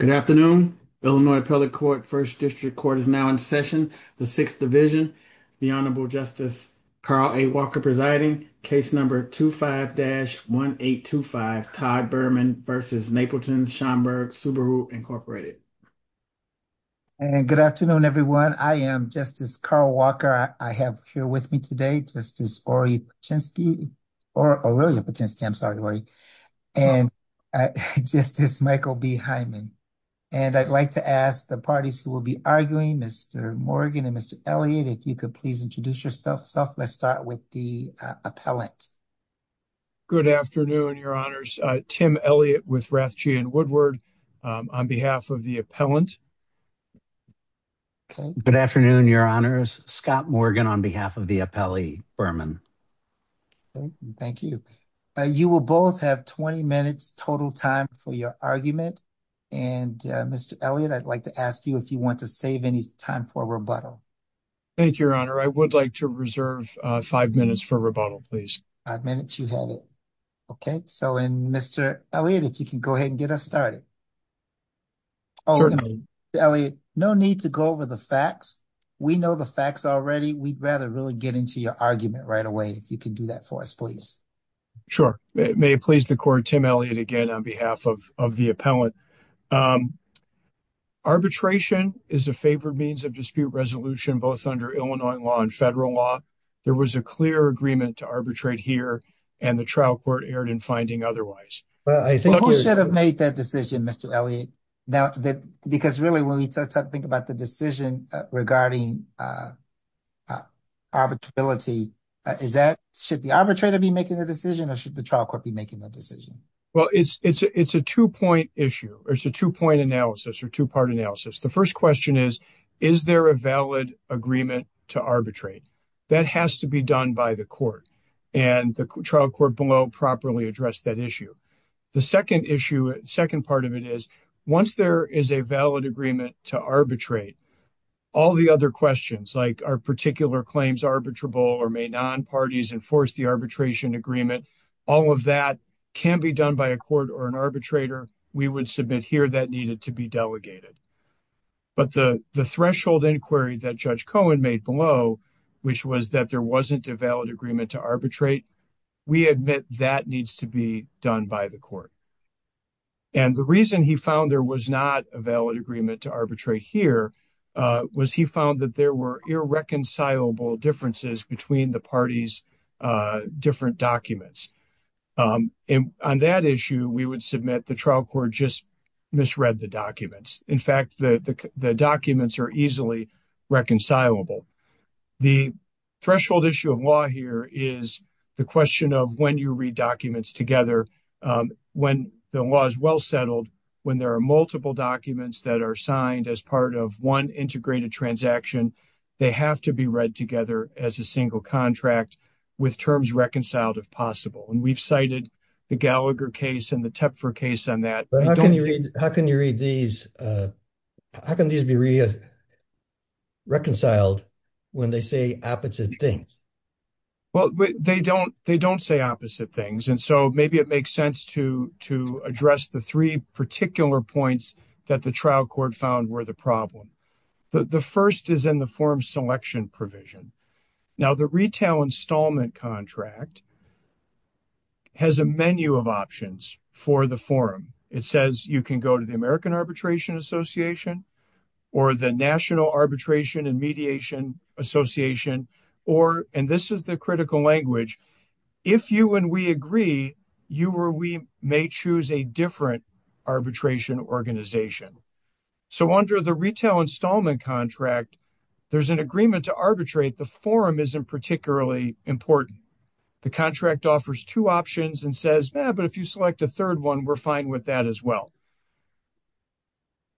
Good afternoon, Illinois appellate court 1st district court is now in session. The 6th division, the honorable justice, Carl Walker presiding case number 25 dash 1825 Todd Berman v. Napleton's Schaumburg Subaru, Inc. And good afternoon, everyone. I am just as Carl Walker. I have here with me today. Just as or a chance key or a really intense. I'm sorry. And I just just Michael behind me and I'd like to ask the parties who will be arguing Mr. Morgan and Mr. Elliott. If you could please introduce yourself. So, let's start with the appellate. Good afternoon, your honors, Tim Elliott with Rathjean Woodward on behalf of the appellant. Good afternoon, your honors, Scott Morgan on behalf of the appellee Berman. Thank you. You will both have 20 minutes total time for your argument. And Mr. Elliott, I'd like to ask you if you want to save any time for rebuttal. Thank you, your honor, I would like to reserve 5 minutes for rebuttal. Please. I've managed to have it. Okay, so, and Mr. Elliott, if you can go ahead and get us started. No need to go over the facts. We know the facts already. We'd rather really get into your argument right away. If you can do that for us, please. Sure, may it please the court Tim Elliott again on behalf of of the appellant. Arbitration is a favored means of dispute resolution, both under Illinois law and federal law. There was a clear agreement to arbitrate here and the trial court erred in finding otherwise. Well, I think we should have made that decision. Mr. Elliott. Now, because really, when we think about the decision regarding. Arbitrary is that should the arbitrator be making the decision or should the trial court be making the decision? Well, it's a 2 point issue or it's a 2 point analysis or 2 part analysis. The 1st question is, is there a valid agreement to arbitrate? That has to be done by the court and the trial court below properly address that issue. The 2nd issue 2nd, part of it is once there is a valid agreement to arbitrate. All the other questions, like our particular claims arbitrable, or may non parties enforce the arbitration agreement. All of that can be done by a court or an arbitrator. We would submit here that needed to be delegated. But the threshold inquiry that judge Cohen made below. Which was that there wasn't a valid agreement to arbitrate. We admit that needs to be done by the court. And the reason he found there was not a valid agreement to arbitrate here was he found that there were irreconcilable differences between the parties different documents. And on that issue, we would submit the trial court just. Misread the documents in fact, the documents are easily. Reconcilable the threshold issue of law here is the question of when you read documents together. When the law is well settled, when there are multiple documents that are signed as part of 1 integrated transaction. They have to be read together as a single contract. With terms reconciled if possible, and we've cited the Gallagher case and the tip for case on that. How can you read these? How can these be reconciled? When they say opposite things, well, they don't they don't say opposite things. And so maybe it makes sense to to address the 3 particular points that the trial court found where the problem. The 1st is in the form selection provision. Now, the retail installment contract. Has a menu of options for the forum. It says you can go to the American arbitration association. Or the national arbitration and mediation association, or and this is the critical language. If you and we agree, you were, we may choose a different. Arbitration organization, so under the retail installment contract. There's an agreement to arbitrate the forum isn't particularly important. The contract offers 2 options and says, but if you select a 3rd, 1, we're fine with that as well.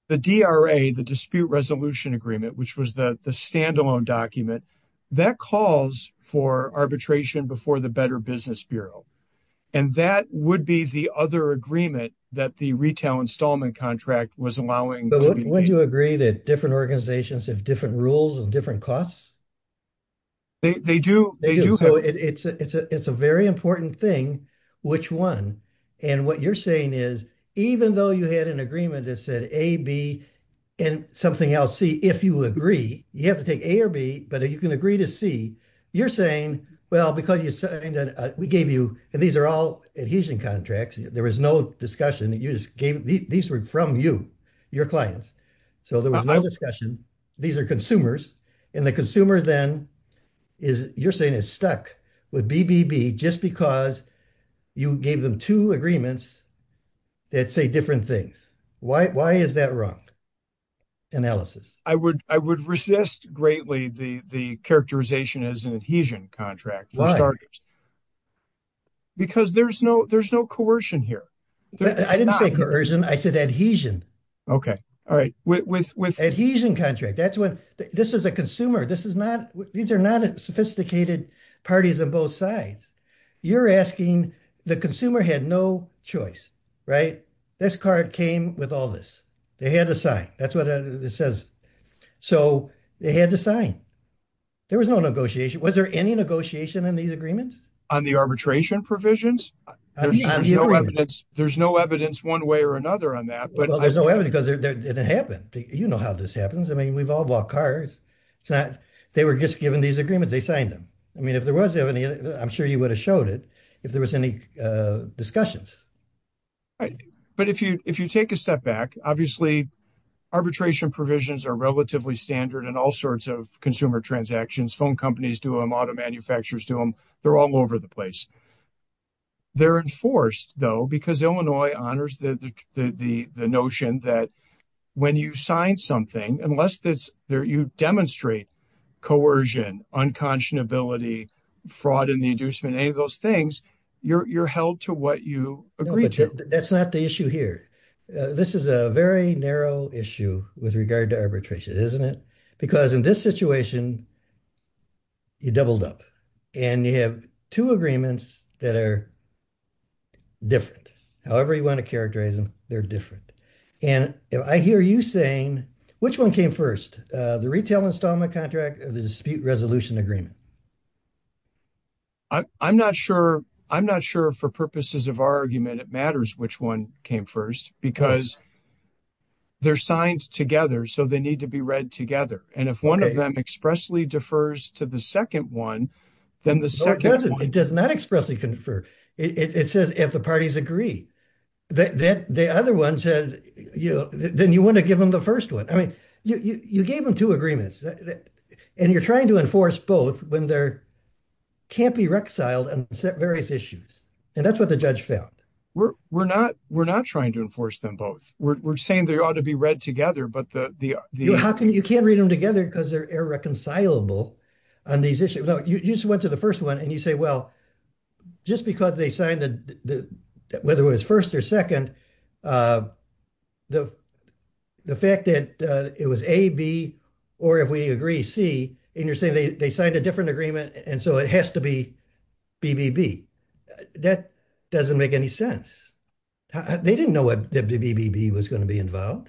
The DRA, the dispute resolution agreement, which was the standalone document. That calls for arbitration before the better business Bureau. And that would be the other agreement that the retail installment contract was allowing. Would you agree that different organizations have different rules and different costs? They do, they do. So it's a, it's a, it's a very important thing. Which 1 and what you're saying is, even though you had an agreement that said, a, B. And something else, see, if you agree, you have to take a or B, but you can agree to see you're saying, well, because you said we gave you and these are all adhesion contracts. There was no discussion that you just gave. These were from you. Your clients, so there was no discussion. These are consumers. And the consumer then is you're saying is stuck with B. B. B. just because. You gave them 2 agreements that say different things. Why why is that wrong? Analysis I would, I would resist greatly. The, the characterization is an adhesion contract. Because there's no, there's no coercion here. I didn't say coercion. I said adhesion. Okay. All right. With with adhesion contract. That's when this is a consumer. This is not these are not sophisticated parties on both sides. You're asking the consumer had no choice, right? This card came with all this. They had to sign that's what it says. So they had to sign. There was no negotiation was there any negotiation in these agreements on the arbitration provisions? There's no evidence 1 way or another on that, but there's no evidence because it didn't happen. You know how this happens. I mean, we've all bought cars. They were just given these agreements. They signed them. I mean, if there was any, I'm sure you would have showed it if there was any discussions. But if you, if you take a step back, obviously. Arbitration provisions are relatively standard and all sorts of consumer transactions, phone companies do them auto manufacturers to them. They're all over the place. They're enforced, though, because Illinois honors the, the, the, the notion that. When you sign something, unless that's there, you demonstrate. Coercion, unconscionability, fraud in the inducement, any of those things you're held to what you agree to. That's not the issue here. This is a very narrow issue with regard to arbitration. Isn't it? Because in this situation. You doubled up and you have 2 agreements that are. Different, however, you want to characterize them. They're different. And I hear you saying, which 1 came 1st, the retail installment contract, the dispute resolution agreement. I'm not sure. I'm not sure for purposes of our argument. It matters. Which 1 came 1st because. They're signed together, so they need to be read together. And if 1 of them expressly defers to the 2nd, 1. Then the 2nd, it does not expressly confer. It says if the parties agree. That the other 1 said, then you want to give them the 1st 1. I mean, you gave them 2 agreements and you're trying to enforce both when there. Can't be rexiled and set various issues and that's what the judge felt. We're not, we're not trying to enforce them both. We're saying they ought to be read together, but the, how can you can't read them together? Because they're irreconcilable on these issues. You just went to the 1st 1 and you say, well. Just because they signed the, whether it was 1st or 2nd. The, the fact that it was a B. Or if we agree, see, and you're saying they signed a different agreement and so it has to be. BBB that doesn't make any sense. They didn't know what the BBB was going to be involved.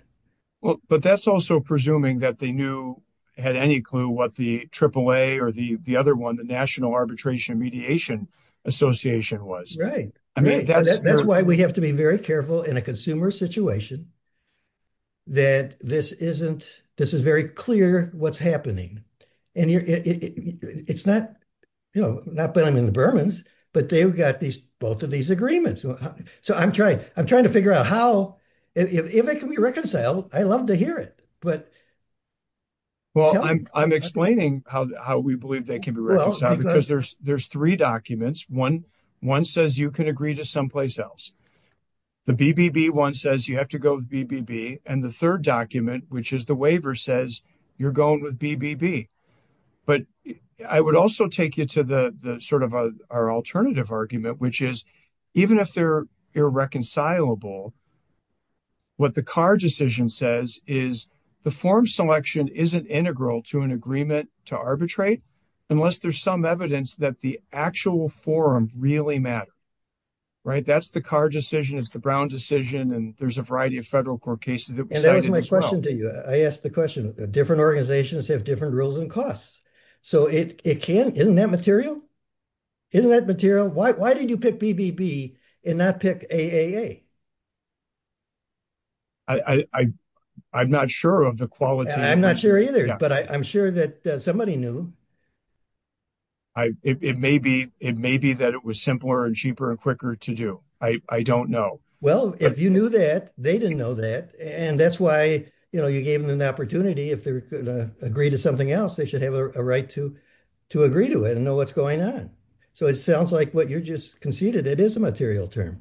Well, but that's also presuming that they knew had any clue what the triple a, or the, the other 1, the national arbitration mediation association was right. I mean, that's why we have to be very careful in a consumer situation. That this isn't this is very clear what's happening. And it's not, you know, not that I'm in the Bermans, but they've got these both of these agreements. So I'm trying, I'm trying to figure out how if it can be reconciled. I love to hear it, but. Well, I'm, I'm explaining how how we believe they can be reconciled because there's, there's 3 documents. 1. 1 says, you can agree to someplace else. The BBB 1 says, you have to go with BBB and the 3rd document, which is the waiver says you're going with BBB, but I would also take you to the sort of our alternative argument, which is even if they're irreconcilable. What the car decision says is the form selection isn't integral to an agreement to arbitrate unless there's some evidence that the actual forum really matter. Right, that's the car decision is the Brown decision and there's a variety of federal court cases. That was my question to you. I asked the question different organizations have different rules and costs. So it can in that material. Isn't that material? Why did you pick BBB and not pick a. I, I, I'm not sure of the quality. I'm not sure either, but I'm sure that somebody knew. I, it may be, it may be that it was simpler and cheaper and quicker to do. I don't know. Well, if you knew that they didn't know that and that's why you gave them an opportunity. If they agree to something else, they should have a right to. To agree to it and know what's going on. So it sounds like what you're just conceded. It is a material term.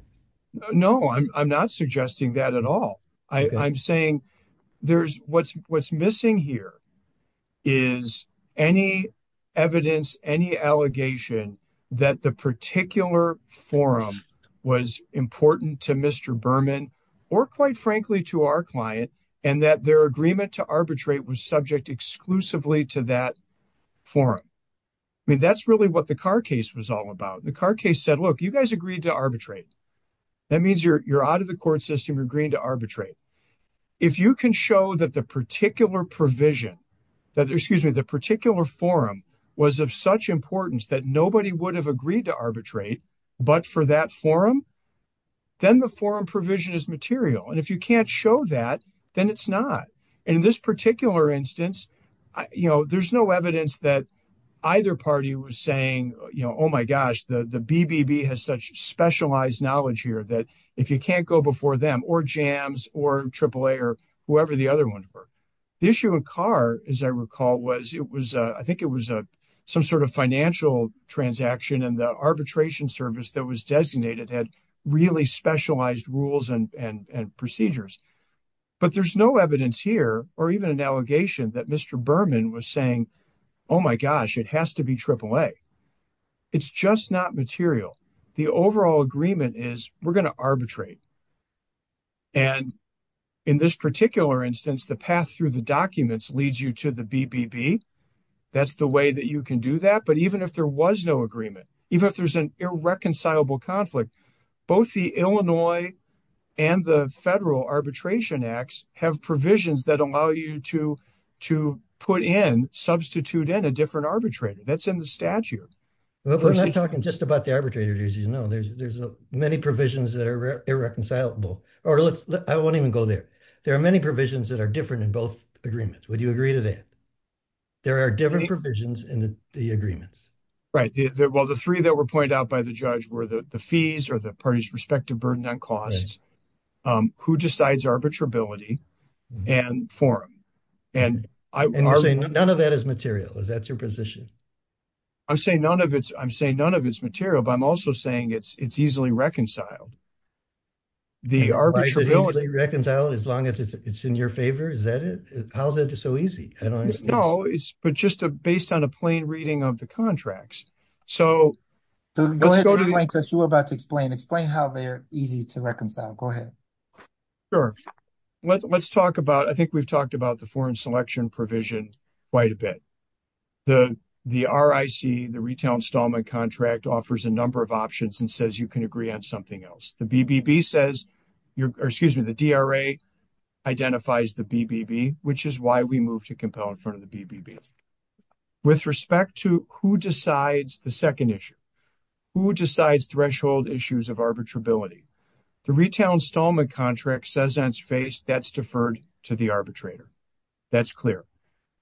No, I'm not suggesting that at all. I'm saying there's what's what's missing here. Is any evidence any allegation that the particular forum was important to Mr Berman or quite frankly to our client and that their agreement to arbitrate was subject exclusively to that. Forum, I mean, that's really what the car case was all about. The car case said, look, you guys agreed to arbitrate. That means you're, you're out of the court system agreeing to arbitrate. If you can show that the particular provision. That excuse me, the particular forum was of such importance that nobody would have agreed to arbitrate, but for that forum. Then the forum provision is material. And if you can't show that, then it's not in this particular instance, you know, there's no evidence that Either party was saying, you know, oh my gosh, the the BBB has such specialized knowledge here that if you can't go before them or jams or triple A or whoever the other one for The issue of car, as I recall, was it was, I think it was a some sort of financial transaction and the arbitration service that was designated had really specialized rules and procedures. But there's no evidence here or even an allegation that Mr Berman was saying, oh my gosh, it has to be triple A. It's just not material. The overall agreement is we're going to arbitrate. And in this particular instance, the path through the documents leads you to the BBB. That's the way that you can do that. But even if there was no agreement, even if there's an irreconcilable conflict, both the Illinois And the federal arbitration acts have provisions that allow you to to put in substitute in a different arbitrator that's in the statute. We're not talking just about the arbitrators, you know, there's there's many provisions that are irreconcilable or let's I won't even go there. There are many provisions that are different in both agreements. Would you agree to that? There are different provisions in the agreements. Right. Well, the three that were pointed out by the judge were the fees or the parties respective burden on costs, who decides arbitrability and forum. And I'm saying none of that is material. Is that your position? I'm saying none of it's I'm saying none of its material, but I'm also saying it's it's easily reconciled. The arbitrator reconciled as long as it's in your favor. Is that it? How is it so easy? I don't know. It's just a based on a plain reading of the contracts. So go ahead. You were about to explain explain how they're easy to reconcile. Go ahead. Sure, let's talk about I think we've talked about the foreign selection provision quite a bit. The the RIC, the retail installment contract offers a number of options and says you can agree on something else. The BBB says, excuse me, the DRA. Identifies the BBB, which is why we move to compel in front of the BBB. With respect to who decides the second issue, who decides threshold issues of arbitrability. The retail installment contract says on its face that's deferred to the arbitrator. That's clear.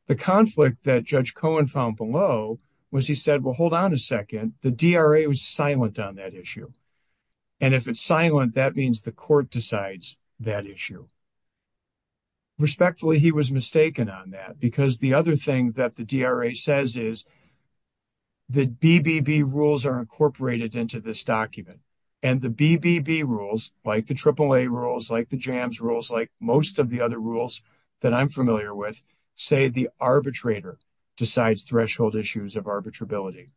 The conflict that Judge Cohen found below was he said, well, hold on a second. The DRA was silent on that issue. And if it's silent, that means the court decides that issue. Respectfully, he was mistaken on that, because the other thing that the DRA says is. The BBB rules are incorporated into this document and the BBB rules like the AAA rules like the jams rules like most of the other rules that I'm familiar with, say the arbitrator decides threshold issues of arbitrability.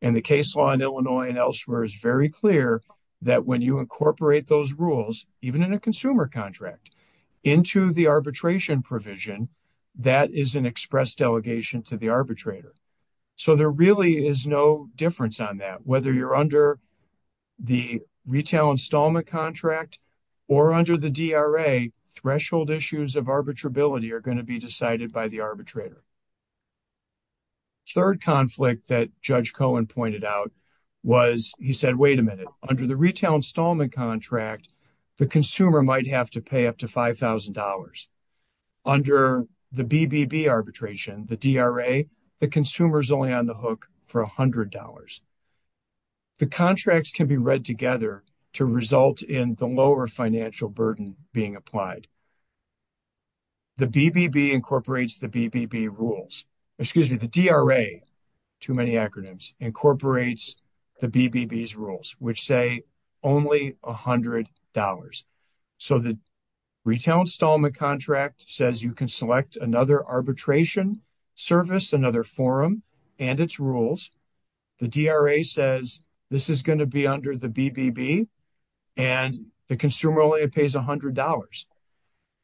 And the case law in Illinois and elsewhere is very clear that when you incorporate those rules, even in a consumer contract into the arbitration provision. That is an express delegation to the arbitrator. So there really is no difference on that, whether you're under. The retail installment contract or under the DRA threshold issues of arbitrability are going to be decided by the arbitrator. Third conflict that Judge Cohen pointed out was he said, wait a minute, under the retail installment contract, the consumer might have to pay up to $5,000 under the BBB arbitration, the DRA, the consumer is only on the hook for $100. The contracts can be read together to result in the lower financial burden being applied. The BBB incorporates the BBB rules, excuse me, the DRA, too many acronyms, incorporates the BBB's rules, which say only $100. So the retail installment contract says you can select another arbitration service, another forum and its rules. The DRA says this is going to be under the BBB and the consumer only pays $100.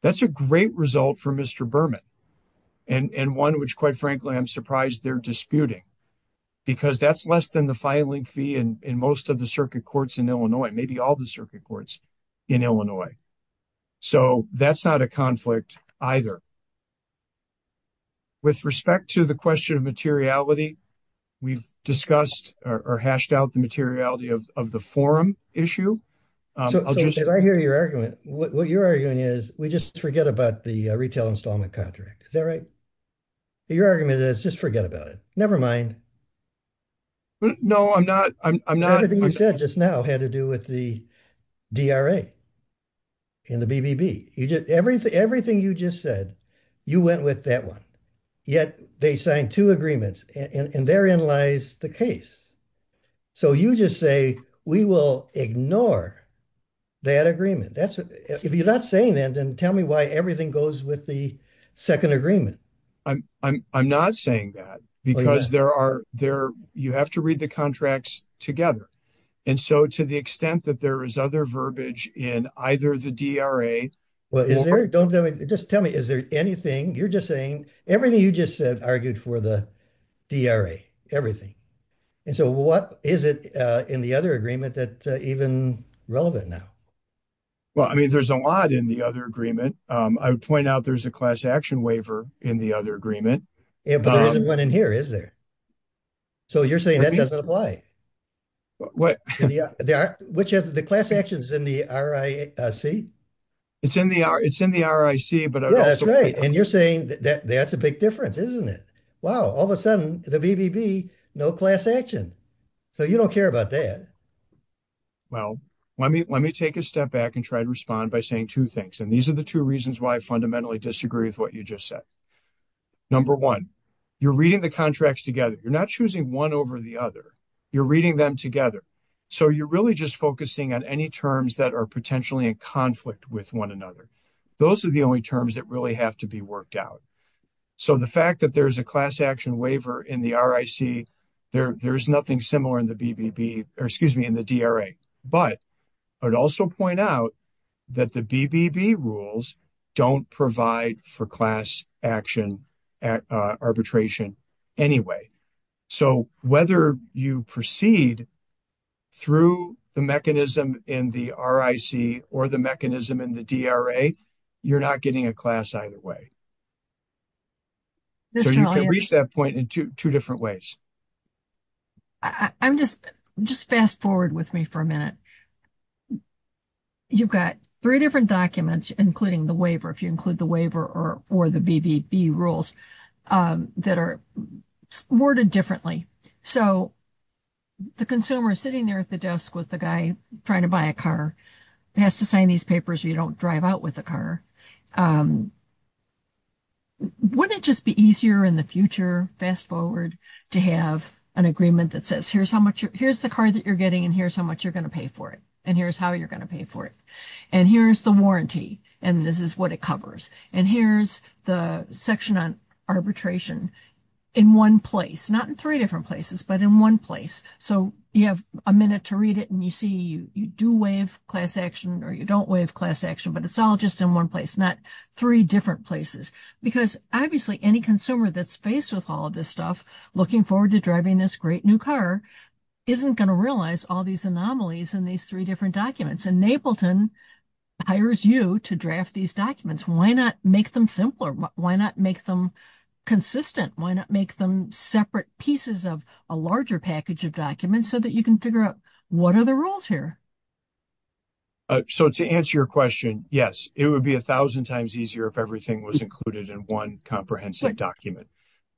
That's a great result for Mr. Berman and one which, quite frankly, I'm surprised they're disputing. Because that's less than the filing fee in most of the circuit courts in Illinois, maybe all the circuit courts in Illinois. So that's not a conflict either. With respect to the question of materiality, we've discussed or hashed out the materiality of the forum issue. So, I hear your argument. What you're arguing is we just forget about the retail installment contract. Is that right? Your argument is just forget about it. Never mind. No, I'm not. I'm not. Everything you said just now had to do with the DRA and the BBB. Everything you just said, you went with that one. Yet, they signed two agreements and therein lies the case. So you just say we will ignore that agreement. If you're not saying that, then tell me why everything goes with the second agreement. I'm not saying that because you have to read the contracts together. And so, to the extent that there is other verbiage in either the DRA. Just tell me, is there anything you're just saying? Everything you just said argued for the DRA. Everything. And so, what is it in the other agreement that's even relevant now? Well, I mean, there's a lot in the other agreement. I would point out there's a class action waiver in the other agreement. Yeah, but there isn't one in here, is there? So you're saying that doesn't apply? What? Which of the class actions in the RIC? It's in the RIC, but- Yeah, that's right. And you're saying that's a big difference, isn't it? Wow, all of a sudden, the BBB, no class action. So you don't care about that. Well, let me take a step back and try to respond by saying two things. And these are the two reasons why I fundamentally disagree with what you just said. Number one, you're reading the contracts together. You're not choosing one over the other. You're reading them together. So you're really just focusing on any terms that are potentially in conflict with one another. Those are the only terms that really have to be worked out. So the fact that there's a class action waiver in the RIC, there's nothing similar in the BBB, or excuse me, in the DRA. But I'd also point out that the BBB rules don't provide for class action arbitration anyway. So whether you proceed through the mechanism in the RIC or the mechanism in the DRA, you're not getting a class either way. So you can reach that point in two different ways. I'm just, just fast forward with me for a minute. You've got three different documents, including the waiver, if you include the waiver or the BBB rules, that are worded differently. So the consumer sitting there at the desk with the guy trying to buy a car has to sign these papers or you don't drive out with a car. Wouldn't it just be easier in the future, fast forward, to have an agreement that says, here's how much, here's the car that you're getting, and here's how much you're going to pay for it. And here's how you're going to pay for it. And here's the warranty. And this is what it covers. And here's the section on arbitration in one place, not in three different places, but in one place. So you have a minute to read it and you see you do waive class action or you don't waive class action, but it's all just in one place, not three different places. Because obviously any consumer that's faced with all of this stuff, looking forward to driving this great new car, isn't going to realize all these anomalies in these three different documents. And Napleton hires you to draft these documents. Why not make them simpler? Why not make them consistent? Why not make them separate pieces of a larger package of documents so that you can figure out what are the rules here? So to answer your question, yes, it would be a thousand times easier if everything was included in one comprehensive document.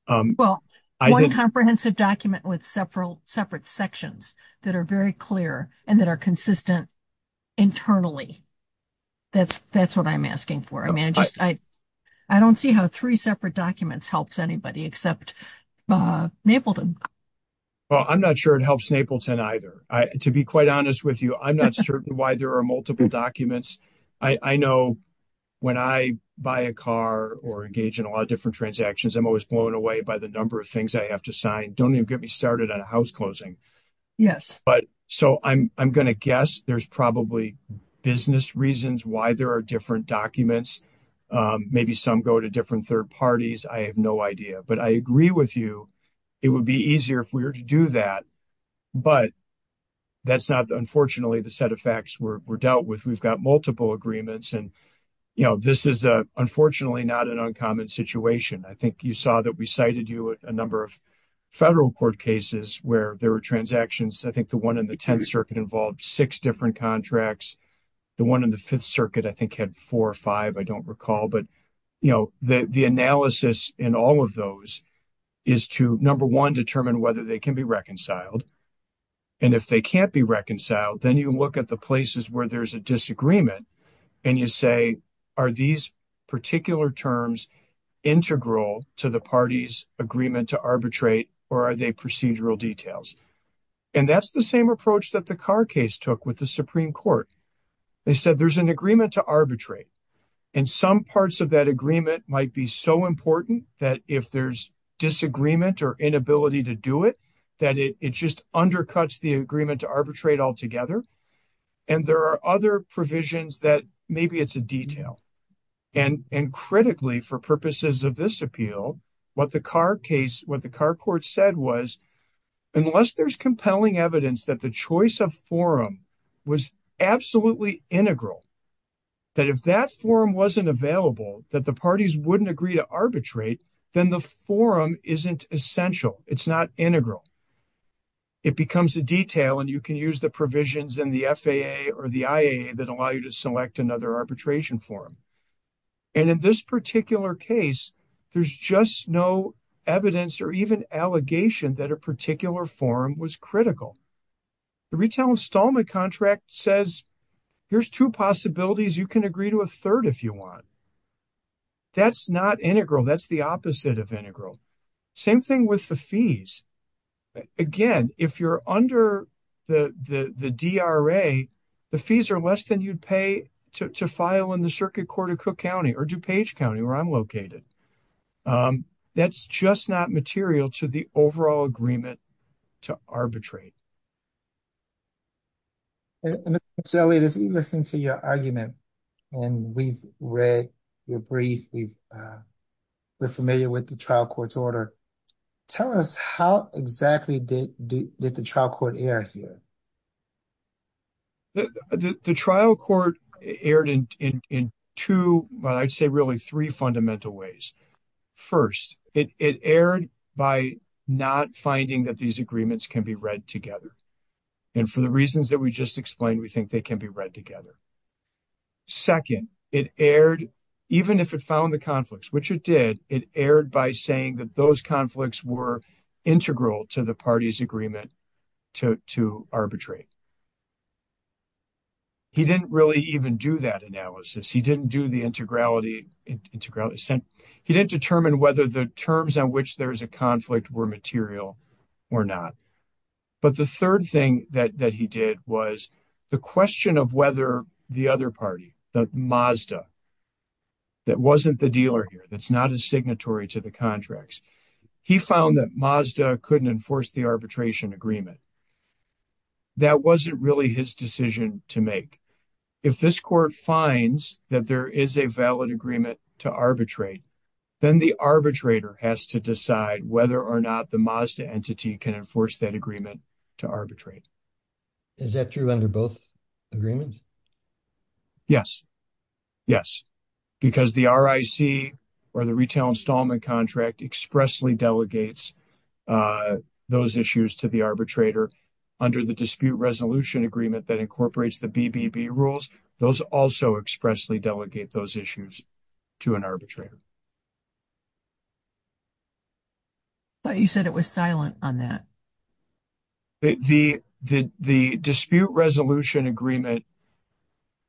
Well, one comprehensive document with several separate sections that are very clear and that are consistent internally. That's what I'm asking for. I don't see how three separate documents helps anybody except Napleton. Well, I'm not sure it helps Napleton either. To be quite honest with you, I'm not certain why there are multiple documents. I know when I buy a car or engage in a lot of different transactions, I'm always blown away by the number of things I have to sign. Don't even get me started on a house closing. Yes. But so I'm going to guess there's probably business reasons why there are different documents. Maybe some go to different third parties. I have no idea. But I agree with you. It would be easier if we were to do that. But that's not, unfortunately, the set of facts we're dealt with. We've got multiple agreements. And this is, unfortunately, not an uncommon situation. I think you saw that we cited you a number of federal court cases where there were transactions. I think the one in the Tenth Circuit involved six different contracts. The one in the Fifth Circuit, I think, had four or five. I don't recall. But the analysis in all of those is to, number one, determine whether they can be reconciled. And if they can't be reconciled, then you look at the places where there's a disagreement and you say, are these particular terms integral to the party's agreement to arbitrate or are they procedural details? And that's the same approach that the Carr case took with the Supreme Court. They said there's an agreement to arbitrate. And some parts of that agreement might be so important that if there's disagreement or inability to do it, that it just undercuts the agreement to arbitrate altogether. And there are other provisions that maybe it's a detail. And critically, for purposes of this appeal, what the Carr case, what the Carr court said was, unless there's compelling evidence that the choice of forum was absolutely integral, that if that forum wasn't available, that the parties wouldn't agree to arbitrate, then the forum isn't essential. It's not integral. It becomes a detail and you can use the provisions in the FAA or the IAA that allow you to select another arbitration forum. And in this particular case, there's just no evidence or even allegation that a particular forum was critical. The retail installment contract says, here's two possibilities. You can agree to a third if you want. That's not integral. That's the opposite of integral. Same thing with the fees. Again, if you're under the DRA, the fees are less than you'd pay to file in the circuit court of Cook County or DuPage County where I'm located. That's just not material to the overall agreement to arbitrate. And Mr. Elliott, as we listen to your argument, and we've read your brief, we're familiar with the trial court's order. Tell us how exactly did the trial court err here? The trial court erred in two, well, I'd say really three fundamental ways. First, it erred by not finding that these agreements can be read together. And for the reasons that we just explained, we think they can be read together. Second, it erred, even if it found the conflicts, which it did, it erred by saying that those conflicts were integral to the party's agreement to arbitrate. He didn't really even do that analysis. He didn't do the integrality. He didn't determine whether the terms on which there's a conflict were material or not. But the third thing that he did was the question of whether the other party, the Mazda, that wasn't the dealer here, that's not a signatory to the contracts. He found that Mazda couldn't enforce the arbitration agreement. That wasn't really his decision to make. If this court finds that there is a valid agreement to arbitrate, then the arbitrator has to decide whether or not the Mazda entity can enforce that agreement to arbitrate. Is that true under both agreements? Yes. Yes. Because the RIC or the retail installment contract expressly delegates those issues to the arbitrator. Under the dispute resolution agreement that incorporates the BBB rules, those also expressly delegate those issues to an arbitrator. But you said it was silent on that. The dispute resolution agreement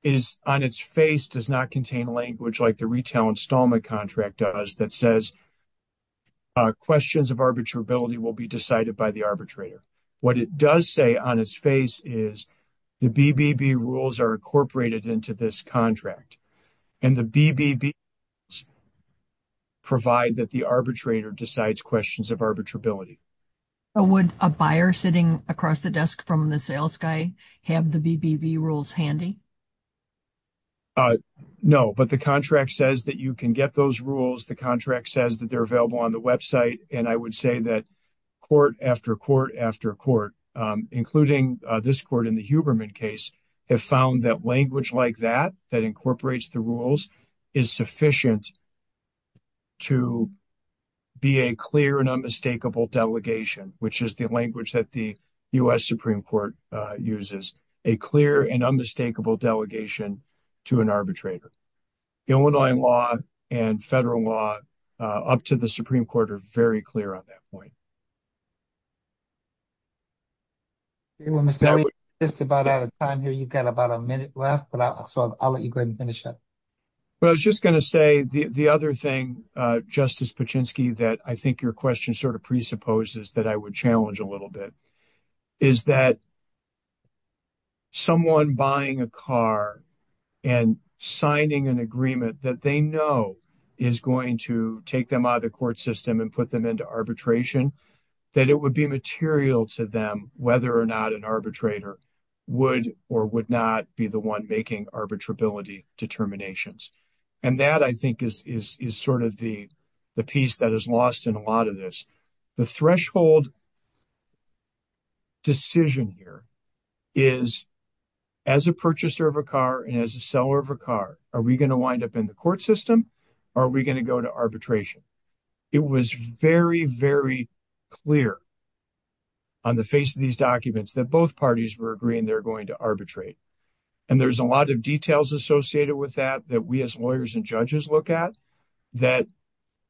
is, on its face, does not contain language like retail installment contract does that says questions of arbitrability will be decided by the arbitrator. What it does say on its face is the BBB rules are incorporated into this contract. And the BBB rules provide that the arbitrator decides questions of arbitrability. Would a buyer sitting across the desk from the sales guy have the BBB rules handy? No, but the contract says that you can get those rules. The contract says that they're available on the website. And I would say that court after court after court, including this court in the Huberman case, have found that language like that, that incorporates the rules, is sufficient to be a clear and unmistakable delegation, which is the language that the U.S. Supreme Court uses. A clear and unmistakable delegation to an arbitrator. Illinois law and federal law up to the Supreme Court are very clear on that point. You want me to tell you just about out of time here, you've got about a minute left, but I'll let you go ahead and finish up. But I was just going to say the other thing, Justice Paczynski, that I think your question sort of presupposes that I would challenge a little bit. Is that someone buying a car and signing an agreement that they know is going to take them out of the court system and put them into arbitration, that it would be material to them whether or not an arbitrator would or would not be the one making arbitrability determinations. And that, I think, is sort of the piece that is lost in a lot of this. The threshold decision here is as a purchaser of a car and as a seller of a car, are we going to wind up in the court system or are we going to go to arbitration? It was very, very clear on the face of these documents that both parties were agreeing they're going to arbitrate. And there's a lot of details associated with that that we as lawyers and judges look at that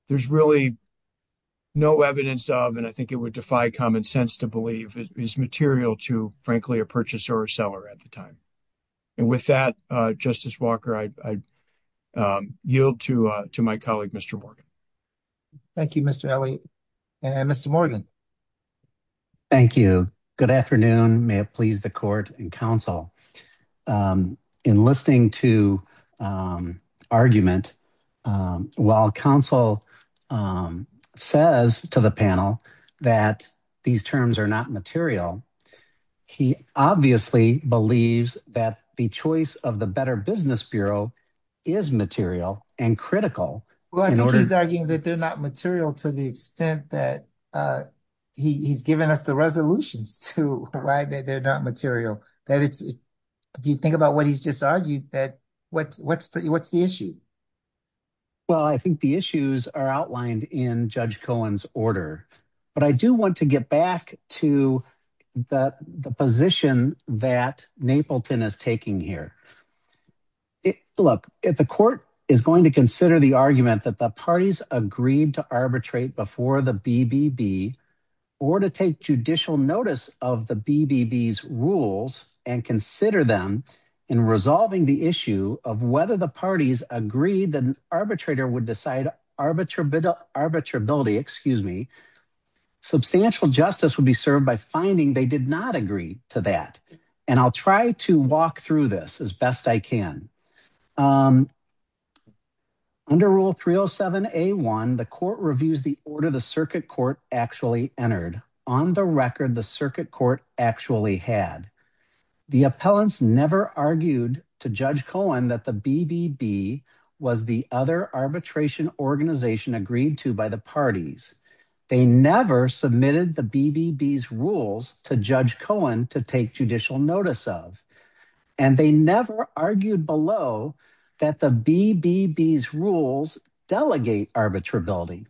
there's really no evidence of, and I think it would defy common sense to believe, is material to, frankly, a purchaser or seller at the time. And with that, Justice Walker, I yield to my colleague, Mr. Morgan. Thank you, Mr. Alley. Mr. Morgan. Thank you. Good afternoon. May it please the court and counsel. In listening to argument, while counsel says to the panel that these terms are not material, he obviously believes that the choice of the Better Business Bureau is material and critical. Well, I think he's arguing that they're not material to the extent that he's given us the resolutions to why they're not material. That if you think about what he's just argued, what's the issue? Well, I think the issues are outlined in Judge Cohen's order. But I do want to get back to the position that Napleton is taking here. Look, the court is going to consider the argument that the parties agreed to arbitrate before the BBB or to take judicial notice of the BBB's rules and consider them in resolving the issue of whether the parties agreed the arbitrator would decide arbitrability, excuse me. Substantial justice would be served by finding they did not agree to that. And I'll try to walk through this as best I can. Under Rule 307A1, the court reviews the order the circuit court actually entered. On the record, the circuit court actually had. The appellants never argued to Judge Cohen that the BBB was the other arbitration organization agreed to by the parties. They never submitted the BBB's rules to Judge Cohen to take judicial notice of. And they never argued below that the BBB's rules delegate arbitrability.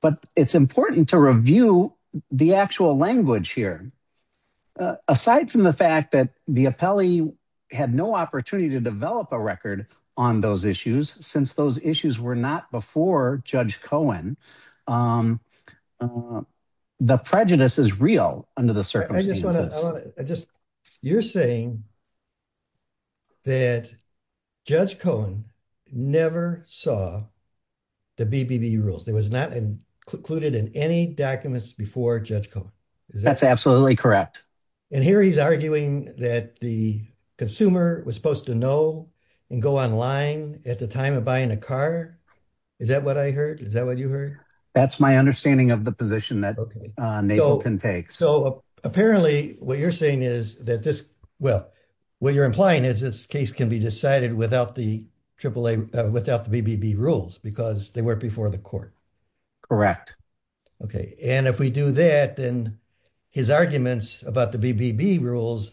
But it's important to review the actual language here. Aside from the fact that the appellee had no opportunity to develop a record on those issues, since those issues were not before Judge Cohen. The prejudice is real under the circumstances. I just, you're saying. That Judge Cohen never saw the BBB rules. There was not included in any documents before Judge Cohen. That's absolutely correct. And here he's arguing that the consumer was supposed to know and go online at the time of buying a car. Is that what I heard? Is that what you heard? That's my understanding of the position that Nagleton takes. So apparently what you're saying is that this, well, what you're implying is this case can be decided without the AAA, without the BBB rules because they weren't before the court. Correct. Okay. And if we do that, then his arguments about the BBB rules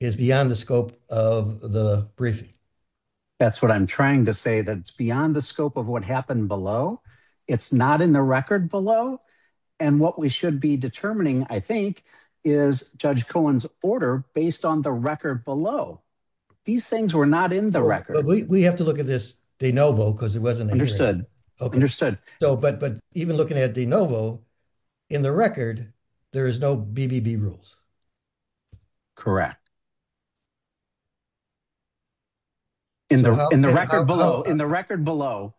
is beyond the scope of the briefing. That's what I'm trying to say. That's beyond the scope of what happened below. It's not in the record below. And what we should be determining, I think, is Judge Cohen's order based on the record below. These things were not in the record. But we have to look at this de novo because it wasn't understood. Okay. Understood. So, but even looking at de novo in the record, there is no BBB rules. Correct. In the record below. In the record below.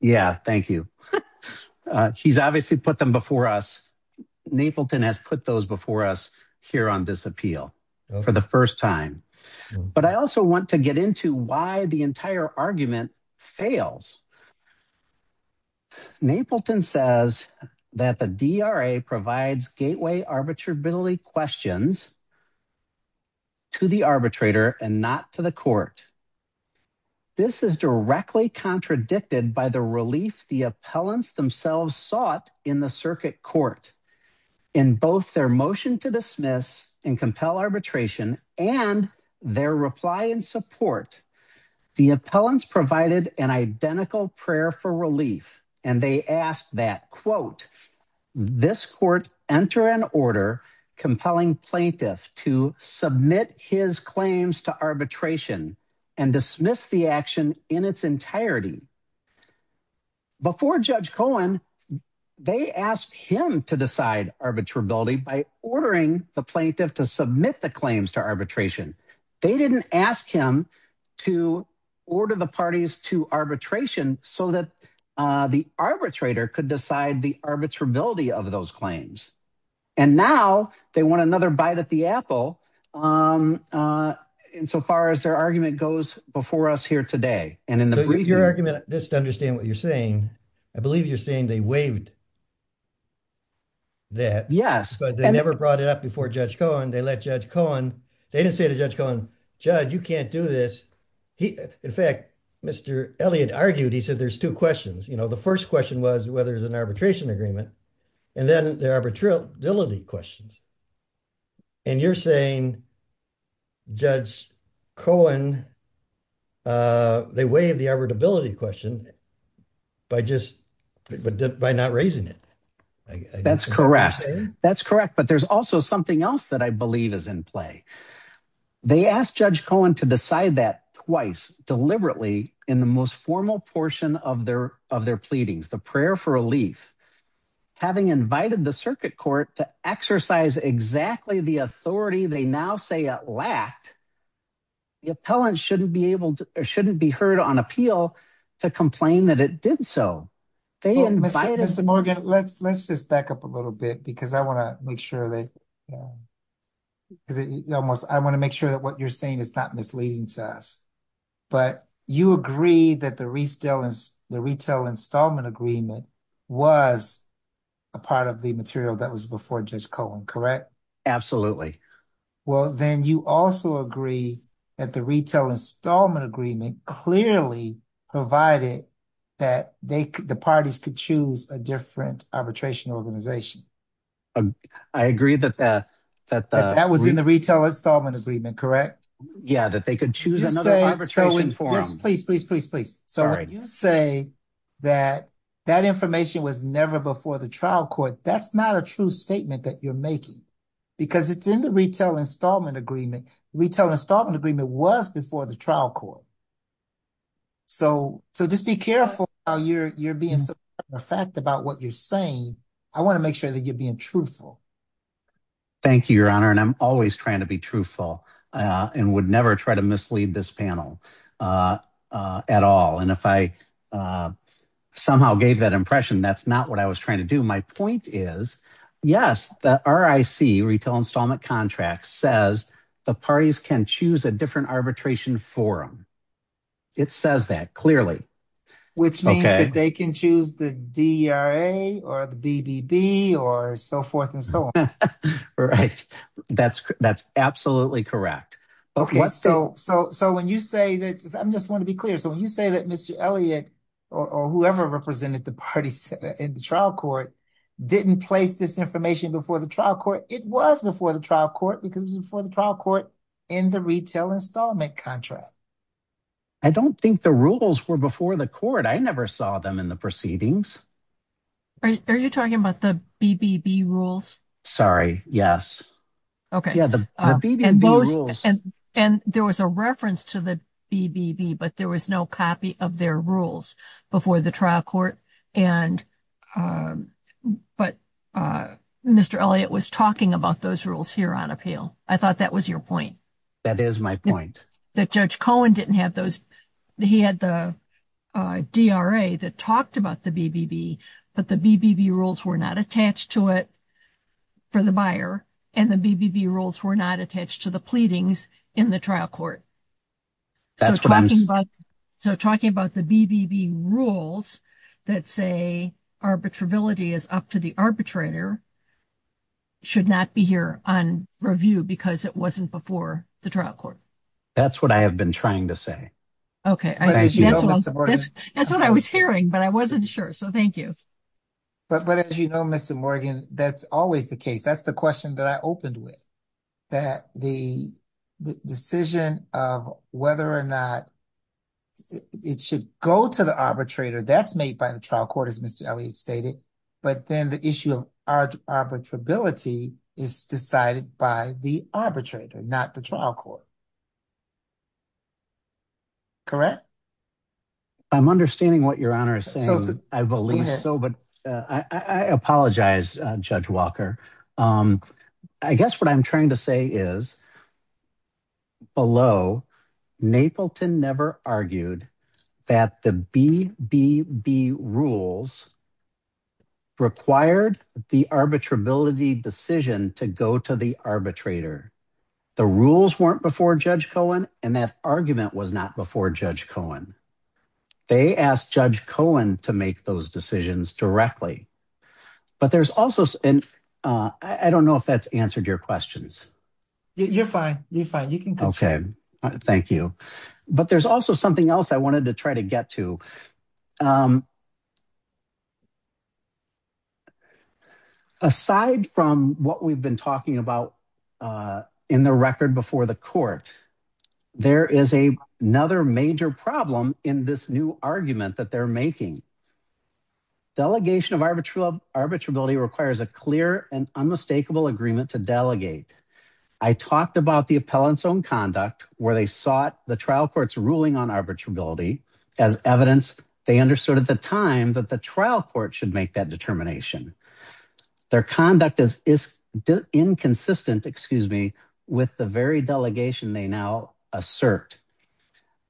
Yeah. Thank you. He's obviously put them before us. Nagleton has put those before us here on this appeal for the first time. But I also want to get into why the entire argument fails. Nagleton says that the DRA provides gateway arbitrability questions to the arbitrator and not to the court. This is directly contradicted by the relief the appellants themselves sought in the circuit court. In both their motion to dismiss and compel arbitration and their reply and support, the appellants provided an identical prayer for relief. And they asked that, quote, this court enter an order compelling plaintiff to submit his claims to arbitration and dismiss the action in its entirety. Before judge Cohen, they asked him to decide arbitrability by ordering the plaintiff to submit the claims to arbitration. They didn't ask him to order the parties to arbitration so that the arbitrator could decide the arbitrability of those claims. And now they want another bite at the apple. In so far as their argument goes before us here today. And in your argument, just understand what you're saying. I believe you're saying they waived. That yes, but they never brought it up before judge Cohen. They let judge Cohen. They didn't say to judge Cohen, judge, you can't do this. In fact, Mr. Elliott argued. He said, there's two questions. You know, the first question was whether there's an arbitration agreement. And then the arbitrability questions. And you're saying judge Cohen. They waive the arbitrability question by just by not raising it. That's correct. That's correct. But there's also something else that I believe is in play. They asked judge Cohen to decide that twice deliberately in the most formal portion of their pleadings, the prayer for relief. Having invited the circuit court to exercise exactly the authority. They now say it lacked. The appellant shouldn't be able or shouldn't be heard on appeal to complain that it did. So they invited Mr. Morgan. Let's let's just back up a little bit because I want to make sure that. Is it almost I want to make sure that what you're saying is not misleading to us. But you agree that the retail is the retail installment agreement was. A part of the material that was before judge Cohen, correct? Well, then you also agree that the retail installment agreement clearly provided. That the parties could choose a different arbitration organization. I agree that that that that was in the retail installment agreement, correct? Yeah, that they could choose an arbitration for us. Please, please, please, please. So you say that that information was never before the trial court. That's not a true statement that you're making because it's in the retail installment agreement. Retail installment agreement was before the trial court. So so just be careful how you're you're being a fact about what you're saying. I want to make sure that you're being truthful. Thank you, your honor, and I'm always trying to be truthful. And would never try to mislead this panel at all. And if I somehow gave that impression, that's not what I was trying to do. My point is, yes, the RIC, retail installment contract says the parties can choose a different arbitration forum. It says that clearly. Which means that they can choose the DRA or the BBB or so forth and so on. Right. That's that's absolutely correct. OK, so so so when you say that, I just want to be clear. So you say that Mr. Elliott or whoever represented the parties in the trial court didn't place this information before the trial court. It was before the trial court because it was before the trial court in the retail installment contract. I don't think the rules were before the court. I never saw them in the proceedings. Are you talking about the BBB rules? Sorry. Yes. OK. Yeah. The BBB rules and and there was a reference to the BBB, but there was no copy of their rules before the trial court. And but Mr. Elliott was talking about those rules here on appeal. I thought that was your point. That is my point. That Judge Cohen didn't have those. He had the DRA that talked about the BBB, but the BBB rules were not attached to it. For the buyer and the BBB rules were not attached to the pleadings in the trial court. So talking about so talking about the BBB rules that say arbitrability is up to the arbitrator. Should not be here on review because it wasn't before the trial court. That's what I have been trying to say. That's what I was hearing, but I wasn't sure. So thank you. But as you know, Mr. Morgan, that's always the case. That's the question that I opened with. That the decision of whether or not it should go to the arbitrator, that's made by the trial court, as Mr. Elliott stated. But then the issue of arbitrability is decided by the arbitrator, not the trial court. Correct. I'm understanding what your honor is saying. I believe so, but I apologize, Judge Walker. I guess what I'm trying to say is. Below, Napleton never argued that the BBB rules required the arbitrability decision to go to the arbitrator. The rules weren't before Judge Cohen, and that argument was not before Judge Cohen. They asked Judge Cohen to make those decisions directly. But there's also, and I don't know if that's answered your questions. You're fine. You're fine. You can go. Okay, thank you. But there's also something else I wanted to try to get to. Aside from what we've been talking about in the record before the court, there is another major problem in this new argument that they're making. Delegation of arbitrability requires a clear and unmistakable agreement to delegate. I talked about the appellant's own conduct where they sought the trial court's ruling on arbitrability as evidence. They understood at the time that the trial court should make that determination. Their conduct is inconsistent with the very delegation they now assert.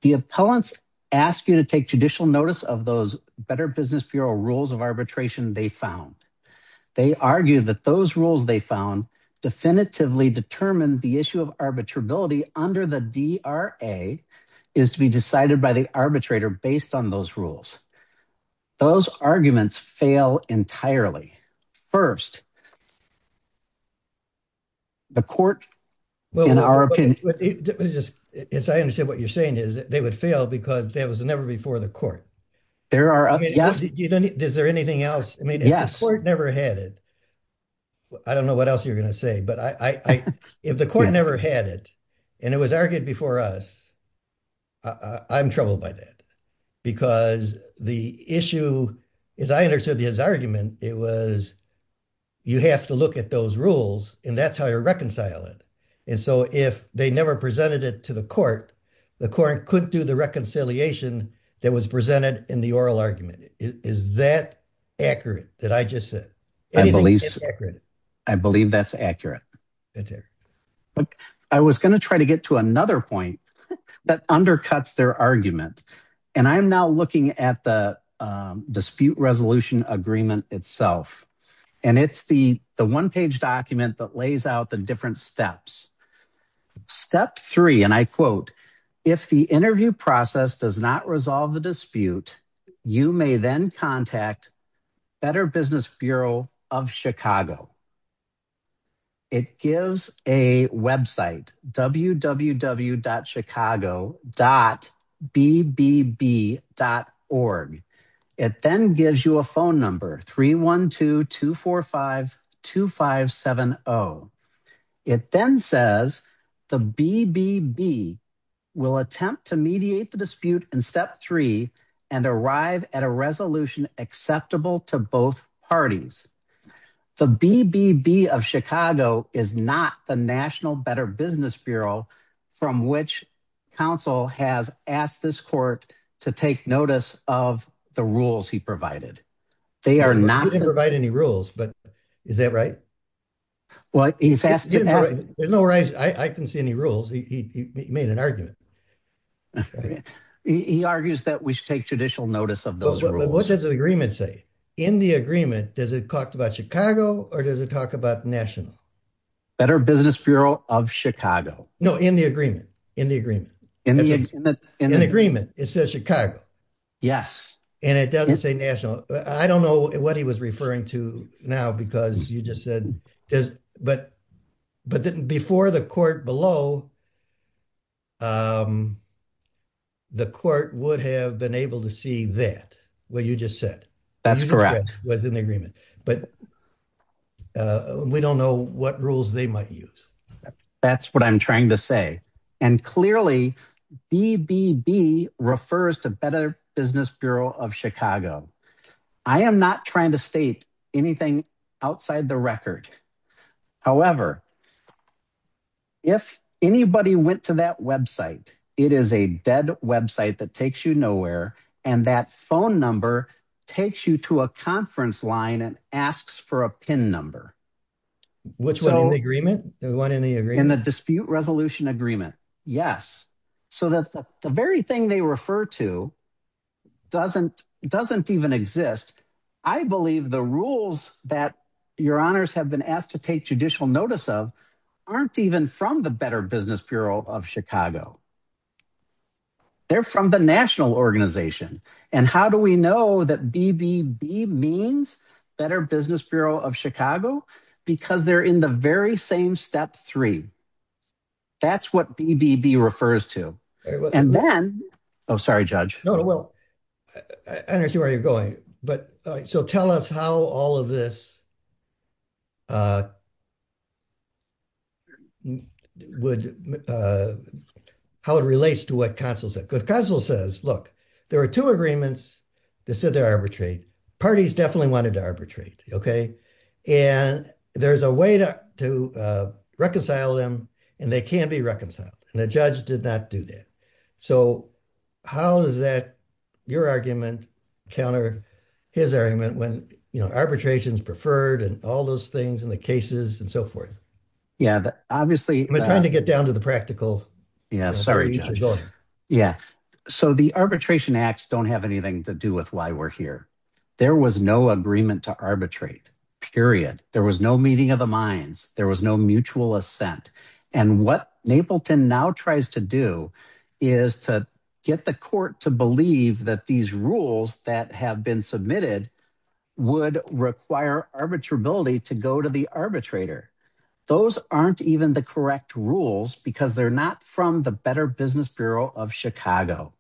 The appellants ask you to take judicial notice of those Better Business Bureau rules of arbitration they found. They argue that those rules they found definitively determined the issue of arbitrability under the DRA is to be decided by the arbitrator based on those rules. Those arguments fail entirely. First, the court in our opinion. I understand what you're saying is they would fail because that was never before the court. Is there anything else? I mean, the court never had it. I don't know what else you're going to say, but if the court never had it and it was argued before us, I'm troubled by that. Because the issue, as I understood his argument, it was you have to look at those rules and that's how you reconcile it. And so if they never presented it to the court, the court couldn't do the reconciliation that was presented in the oral argument. Is that accurate that I just said? I believe that's accurate. I was going to try to get to another point that undercuts their argument, and I'm now looking at the dispute resolution agreement itself, and it's the one page document that lays out the different steps. Step three, and I quote, if the interview process does not resolve the dispute, you may then contact Better Business Bureau of Chicago. It gives a website www.chicago.bbb.org. It then gives you a phone number 312-245-2570. It then says the BBB will attempt to mediate the dispute in step three and arrive at a resolution acceptable to both parties. The BBB of Chicago is not the National Better Business Bureau from which counsel has asked this court to take notice of the rules he provided. They are not. He didn't provide any rules, but is that right? Well, he's asked to ask. There's no way I can see any rules. He made an argument. He argues that we should take judicial notice of those rules. What does the agreement say? In the agreement, does it talk about Chicago or does it talk about National? Better Business Bureau of Chicago. No, in the agreement, in the agreement. In the agreement, it says Chicago. Yes. And it doesn't say National. I don't know what he was referring to now because you just said, but before the court below, the court would have been able to see that, what you just said. That's correct. Was an agreement, but we don't know what rules they might use. That's what I'm trying to say. And clearly BBB refers to Better Business Bureau of Chicago. I am not trying to state anything outside the record. However, if anybody went to that website, it is a dead website that takes you nowhere. And that phone number takes you to a conference line and asks for a pin number. Which one in the agreement, the one in the agreement, the dispute resolution agreement. Yes. So that the very thing they refer to doesn't even exist. I believe the rules that your honors have been asked to take judicial notice of aren't even from the Better Business Bureau of Chicago. They're from the national organization. And how do we know that BBB means Better Business Bureau of Chicago? Because they're in the very same step three. That's what BBB refers to. And then, oh, sorry, judge. No, no. Well, I understand where you're going. So tell us how all of this would, how it relates to what counsel said. Because counsel says, look, there are two agreements that said they're arbitrate. Parties definitely wanted to arbitrate. And there's a way to reconcile them and they can be reconciled. And the judge did not do that. So how does that, your argument counter his argument when, you know, arbitration is preferred and all those things and the cases and so forth. Yeah, obviously. I'm trying to get down to the practical. Yeah, sorry. Yeah. So the arbitration acts don't have anything to do with why we're here. There was no agreement to arbitrate, period. There was no meeting of the minds. There was no mutual assent. And what Napleton now tries to do is to get the court to believe that these rules that have been submitted would require arbitrability to go to the arbitrator. Those aren't even the correct rules because they're not from the Better Business Bureau of Chicago.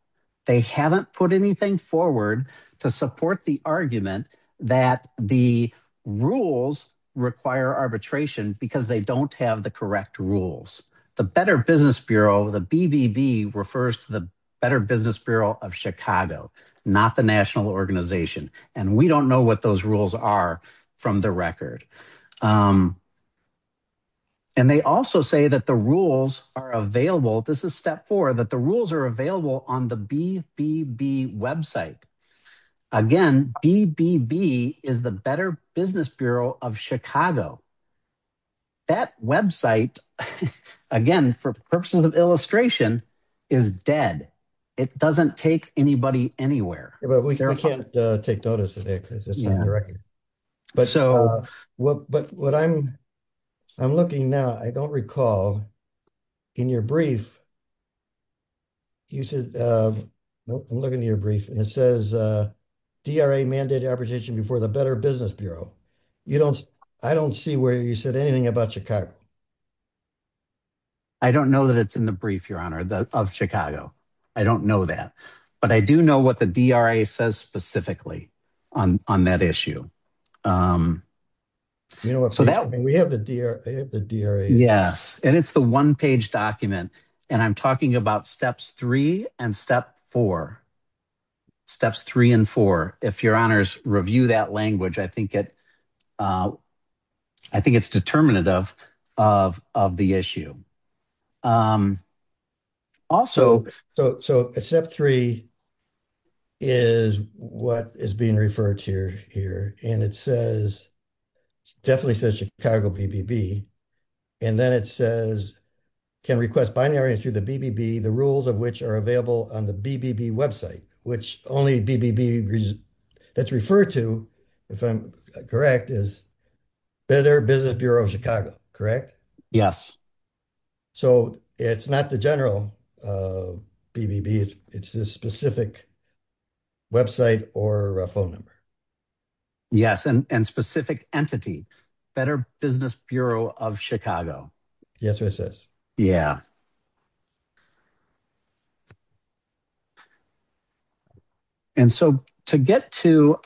They haven't put anything forward to support the argument that the rules require arbitration because they don't have the correct rules. The Better Business Bureau, the BBB refers to the Better Business Bureau of Chicago, not the national organization. And we don't know what those rules are from the record. And they also say that the rules are available. This is step four, that the rules are available on the BBB website. Again, BBB is the Better Business Bureau of Chicago. That website, again, for purposes of illustration, is dead. It doesn't take anybody anywhere. Yeah, but we can't take notice of that because it's not in the record. But what I'm looking now, I don't recall in your brief, you said, nope, I'm looking at your brief and it says DRA mandated arbitration before the Better Business Bureau. You don't, I don't see where you said anything about Chicago. I don't know that it's in the brief, your honor, of Chicago. I don't know that. But I do know what the DRA says specifically on that issue. We have the DRA. Yes, and it's the one page document. And I'm talking about steps three and step four, steps three and four. If your honors review that language, I think it's determinative of the issue. Also, so step three is what is being referred to here. And it says, definitely says Chicago BBB. And then it says, can request binaries through the BBB, the rules of which are available on the BBB website, which only BBB that's referred to, if I'm correct, is Better Business Bureau of Chicago, correct? Yes. So it's not the general BBB, it's this specific website or a phone number. Yes, and specific entity, Better Business Bureau of Chicago. That's what it says. Yeah, and so to get to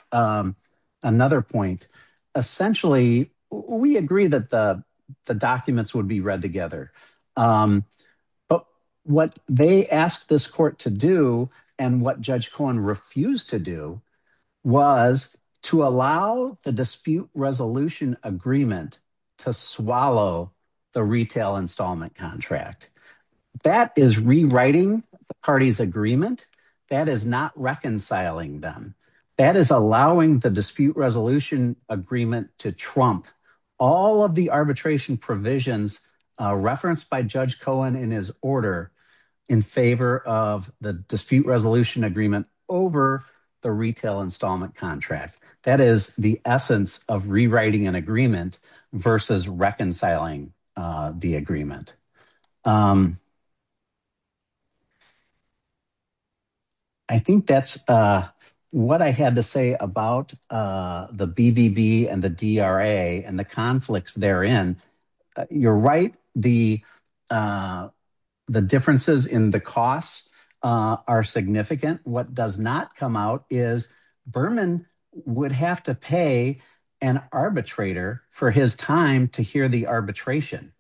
another point, essentially, we agree that the documents would be read together. But what they asked this court to do and what Judge Cohen refused to do was to allow the dispute resolution agreement to swallow the retail installment contract. That is rewriting the party's agreement. That is not reconciling them. That is allowing the dispute resolution agreement to trump all of the arbitration provisions referenced by Judge Cohen in his order in favor of the dispute resolution agreement over the retail installment contract. That is the essence of rewriting an agreement versus reconciling the agreement. I think that's what I had to say about the BBB and the DRA and the conflicts therein. You're right, the differences in the costs are significant. What does not come out is Berman would have to pay an arbitrator for his time to hear the arbitration.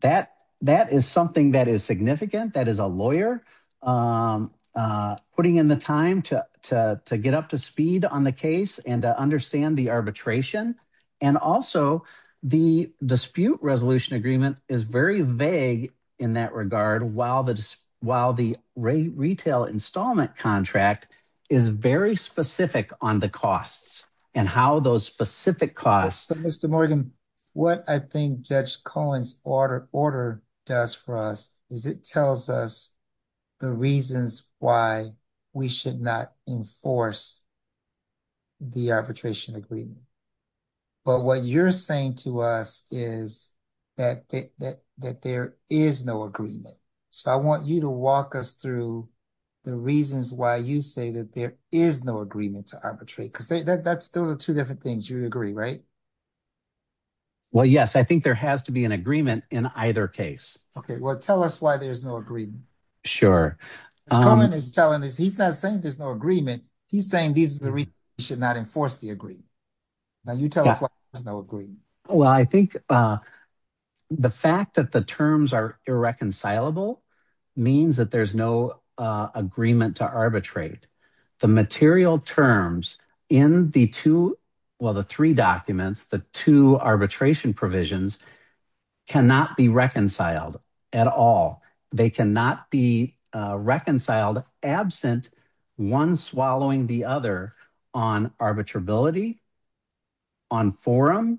That is something that is significant. That is a lawyer putting in the time to get up to speed on the case and to understand the arbitration. Also, the dispute resolution agreement is very vague in that regard while the retail installment contract is very specific on the costs and how those specific costs. Mr. Morgan, what I think Judge Cohen's order does for us is it tells us the reasons why we should not enforce the arbitration agreement. But what you're saying to us is that there is no agreement. So, I want you to walk us through the reasons why you say that there is no agreement to arbitrate because those are two different things. You agree, right? Well, yes. I think there has to be an agreement in either case. Okay, well, tell us why there's no agreement. Judge Cohen is telling us he's not saying there's no agreement. He's saying this is the reason we should not enforce the agreement. Now, you tell us why there's no agreement. Well, I think the fact that the terms are irreconcilable means that there's no agreement to arbitrate. The material terms in the two, well, the three documents, the two arbitration provisions cannot be reconciled at all. They cannot be reconciled absent one swallowing the other on arbitrability, on forum,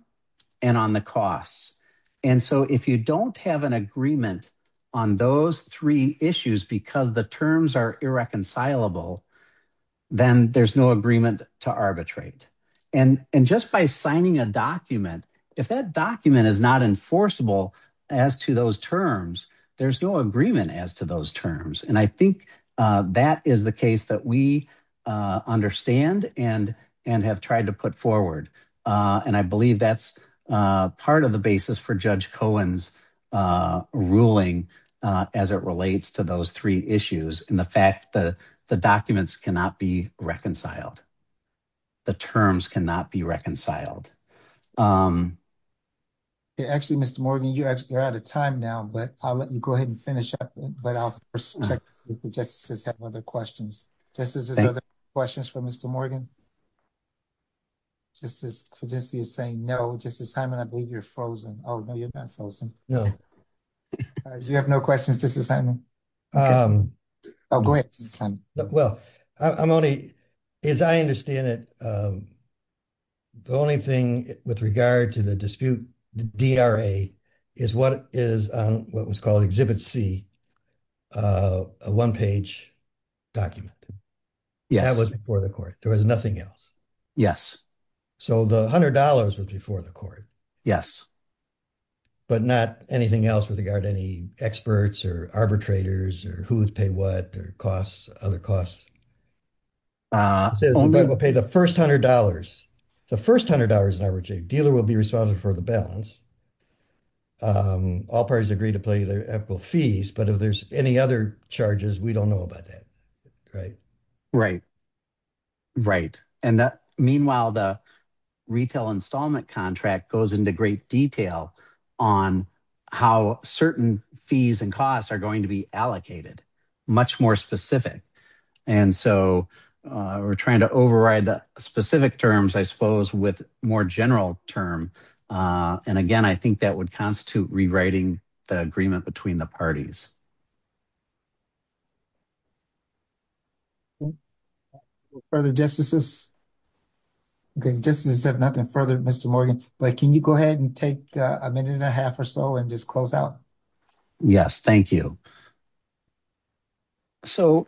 and on the costs. And so, if you don't have an agreement on those three issues because the terms are irreconcilable, then there's no agreement to arbitrate. And just by signing a document, if that document is not enforceable as to those terms, there's no agreement as to those terms. And I think that is the case that we understand and have tried to put forward. And I believe that's part of the basis for Judge Cohen's ruling as it relates to those three issues and the fact that the documents cannot be reconciled. The terms cannot be reconciled. Actually, Mr. Morgan, you're out of time now. But I'll let you go ahead and finish up. But I'll first check to see if the justices have other questions. Justices, are there other questions for Mr. Morgan? Justice Fudgeski is saying no. Justice Hyman, I believe you're frozen. Oh, no, you're not frozen. You have no questions, Justice Hyman? Oh, go ahead, Justice Hyman. Well, I'm only, as I understand it, the only thing with regard to the dispute, the DRA, is what is what was called Exhibit C, a one-page document. Yes. That was before the court. There was nothing else. Yes. So the $100 was before the court. Yes. But not anything else with regard to any experts or arbitrators or who would pay what or costs other costs. Says the judge will pay the first $100. The first $100 in arbitration. Dealer will be responsible for the balance. All parties agree to pay their ethical fees. But if there's any other charges, we don't know about that. Right. Right. And that, meanwhile, the retail installment contract goes into great detail on how certain fees and costs are going to be allocated. Much more specific. And so we're trying to override the specific terms, I suppose, with more general term. And again, I think that would constitute rewriting the agreement between the parties. Further justices? Okay. Justices have nothing further, Mr. Morgan, but can you go ahead and take a minute and a half or so and just close out? Yes. Thank you. So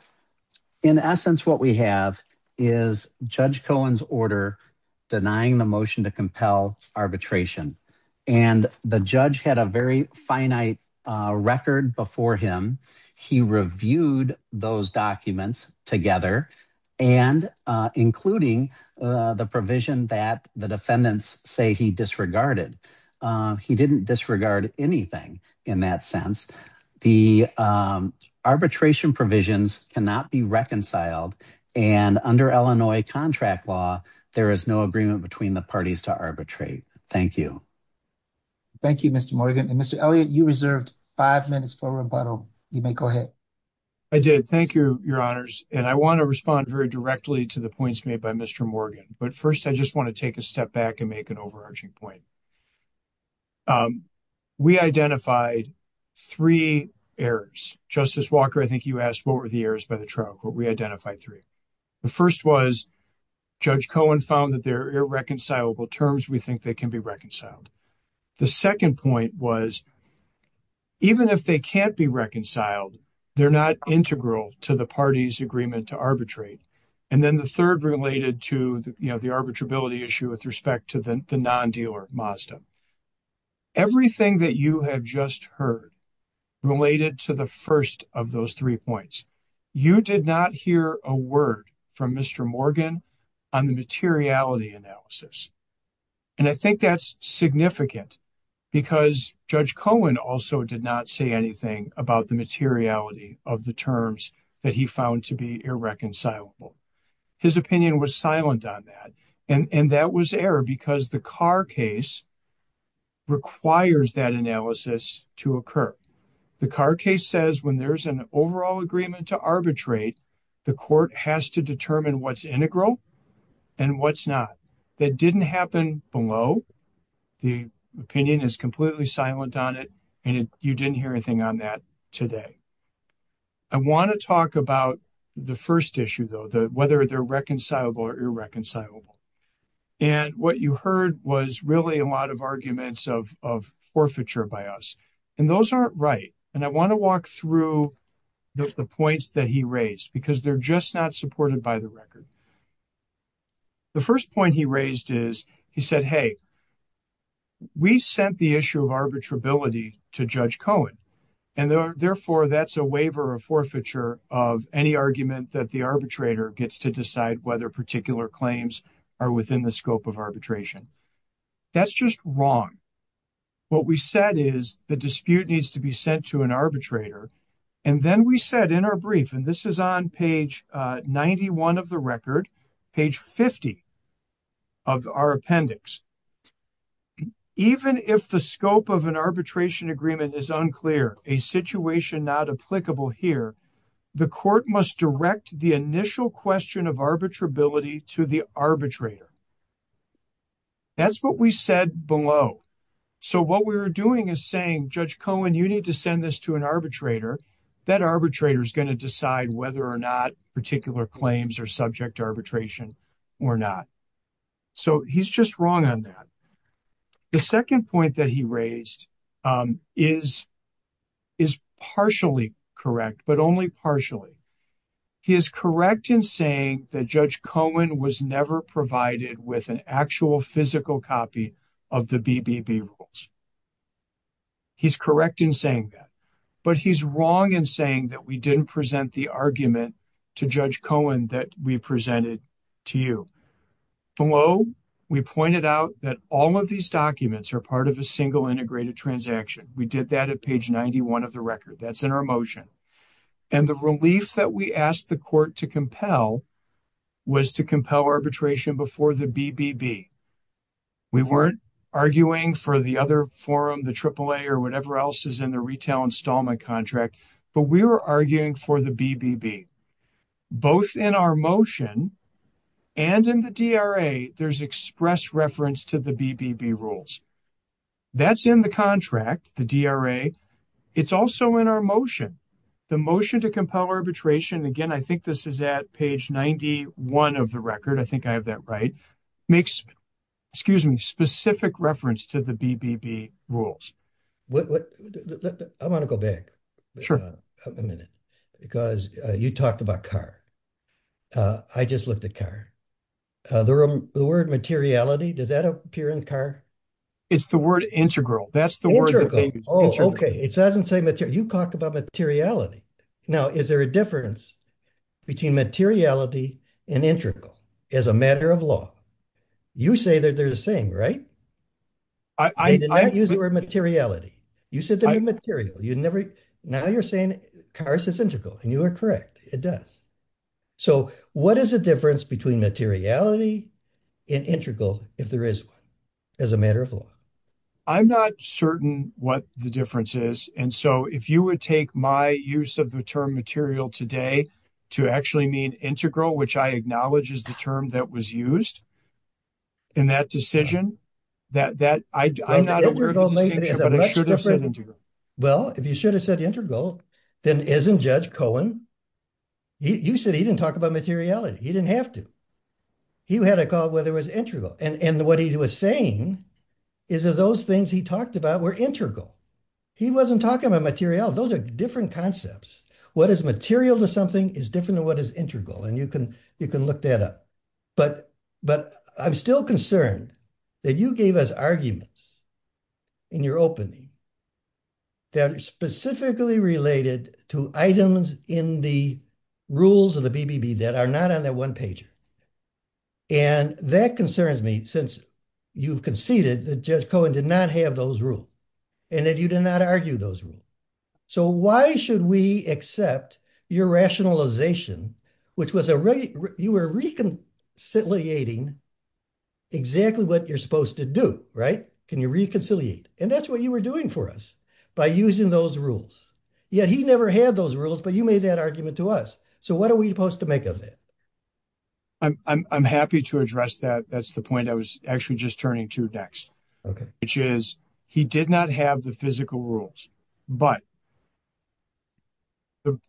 in essence, what we have is Judge Cohen's order denying the motion to compel arbitration. And the judge had a very finite record before him. He reviewed those documents together and including the provision that the defendants say he disregarded. He didn't disregard anything in that sense. The arbitration provisions cannot be reconciled. And under Illinois contract law, there is no agreement between the parties to arbitrate. Thank you. Thank you, Mr. Morgan. And Mr. Elliott, you reserved five minutes for rebuttal. You may go ahead. I did. Thank you, your honors. And I want to respond very directly to the points made by Mr. Morgan. But first, I just want to take a step back and make an overarching point. We identified three errors. Justice Walker, I think you asked, what were the errors by the trial court? We identified three. The first was Judge Cohen found that they're irreconcilable terms. We think they can be reconciled. The second point was, even if they can't be reconciled, they're not integral to the party's agreement to arbitrate. And then the third related to the arbitrability issue with respect to the non-dealer, Mazda. Everything that you have just heard related to the first of those three points. You did not hear a word from Mr. Morgan on the materiality analysis. And I think that's significant because Judge Cohen also did not say anything about the materiality of the terms that he found to be irreconcilable. His opinion was silent on that. And that was error because the Carr case requires that analysis to occur. The Carr case says when there's an overall agreement to arbitrate, the court has to determine what's integral and what's not. That didn't happen below. The opinion is completely silent on it. And you didn't hear anything on that today. I want to talk about the first issue, though, whether they're reconcilable or irreconcilable. And what you heard was really a lot of arguments of forfeiture by us. And those aren't right. And I want to walk through the points that he raised because they're just not supported by the record. The first point he raised is he said, hey, we sent the issue of arbitrability to Judge Cohen. And therefore, that's a waiver of forfeiture of any argument that the arbitrator gets to decide whether particular claims are within the scope of arbitration. That's just wrong. What we said is the dispute needs to be sent to an arbitrator. And then we said in our brief, and this is on page 91 of the record, page 50 of our appendix. Even if the scope of an arbitration agreement is unclear, a situation not applicable here, the court must direct the initial question of arbitrability to the arbitrator. That's what we said below. So what we were doing is saying, Judge Cohen, you need to send this to an arbitrator. That arbitrator is going to decide whether or not particular claims are subject to arbitration or not. So he's just wrong on that. The second point that he raised is partially correct, but only partially. He is correct in saying that Judge Cohen was never provided with an actual physical copy of the BBB rules. He's correct in saying that. But he's wrong in saying that we didn't present the argument to Judge Cohen that we presented to you. Below, we pointed out that all of these documents are part of a single integrated transaction. We did that at page 91 of the record. That's in our motion. And the relief that we asked the court to compel was to compel arbitration before the BBB. We weren't arguing for the other forum, the AAA or whatever else is in the retail installment contract, but we were arguing for the BBB. Both in our motion and in the DRA, there's express reference to the BBB rules. That's in the contract, the DRA. It's also in our motion, the motion to compel arbitration. Again, I think this is at page 91 of the record. I think I have that right. Makes, excuse me, specific reference to the BBB rules. What? I want to go back a minute because you talked about car. I just looked at car. The word materiality, does that appear in car? It's the word integral. That's the word. Oh, okay. It doesn't say material. You talked about materiality. Now, is there a difference between materiality and integral as a matter of law? You say that they're the same, right? I did not use the word materiality. You said they were material. Now you're saying cars is integral and you are correct. It does. So what is the difference between materiality and integral if there is one as a matter of law? I'm not certain what the difference is. And so if you would take my use of the term material today to actually mean integral, which I acknowledge is the term that was used in that decision, that I'm not aware of the distinction, but I should have said integral. Well, if you should have said integral, then isn't Judge Cohen, you said he didn't talk about materiality. He didn't have to. He had a call whether it was integral. And what he was saying is that those things he talked about were integral. He wasn't talking about materiality. Those are different concepts. What is material to something is different than what is integral. And you can look that up. But I'm still concerned that you gave us arguments in your opening that are specifically related to items in the rules of the BBB that are not on that one page. And that concerns me since you've conceded that Judge Cohen did not have those rules and that you did not argue those rules. So why should we accept your rationalization, which was you were reconciliating exactly what you're supposed to do, right? Can you reconciliate? And that's what you were doing for us by using those rules. Yet he never had those rules, but you made that argument to us. So what are we supposed to make of it? I'm happy to address that. That's the point I was actually just turning to next, which is he did not have the physical rules, but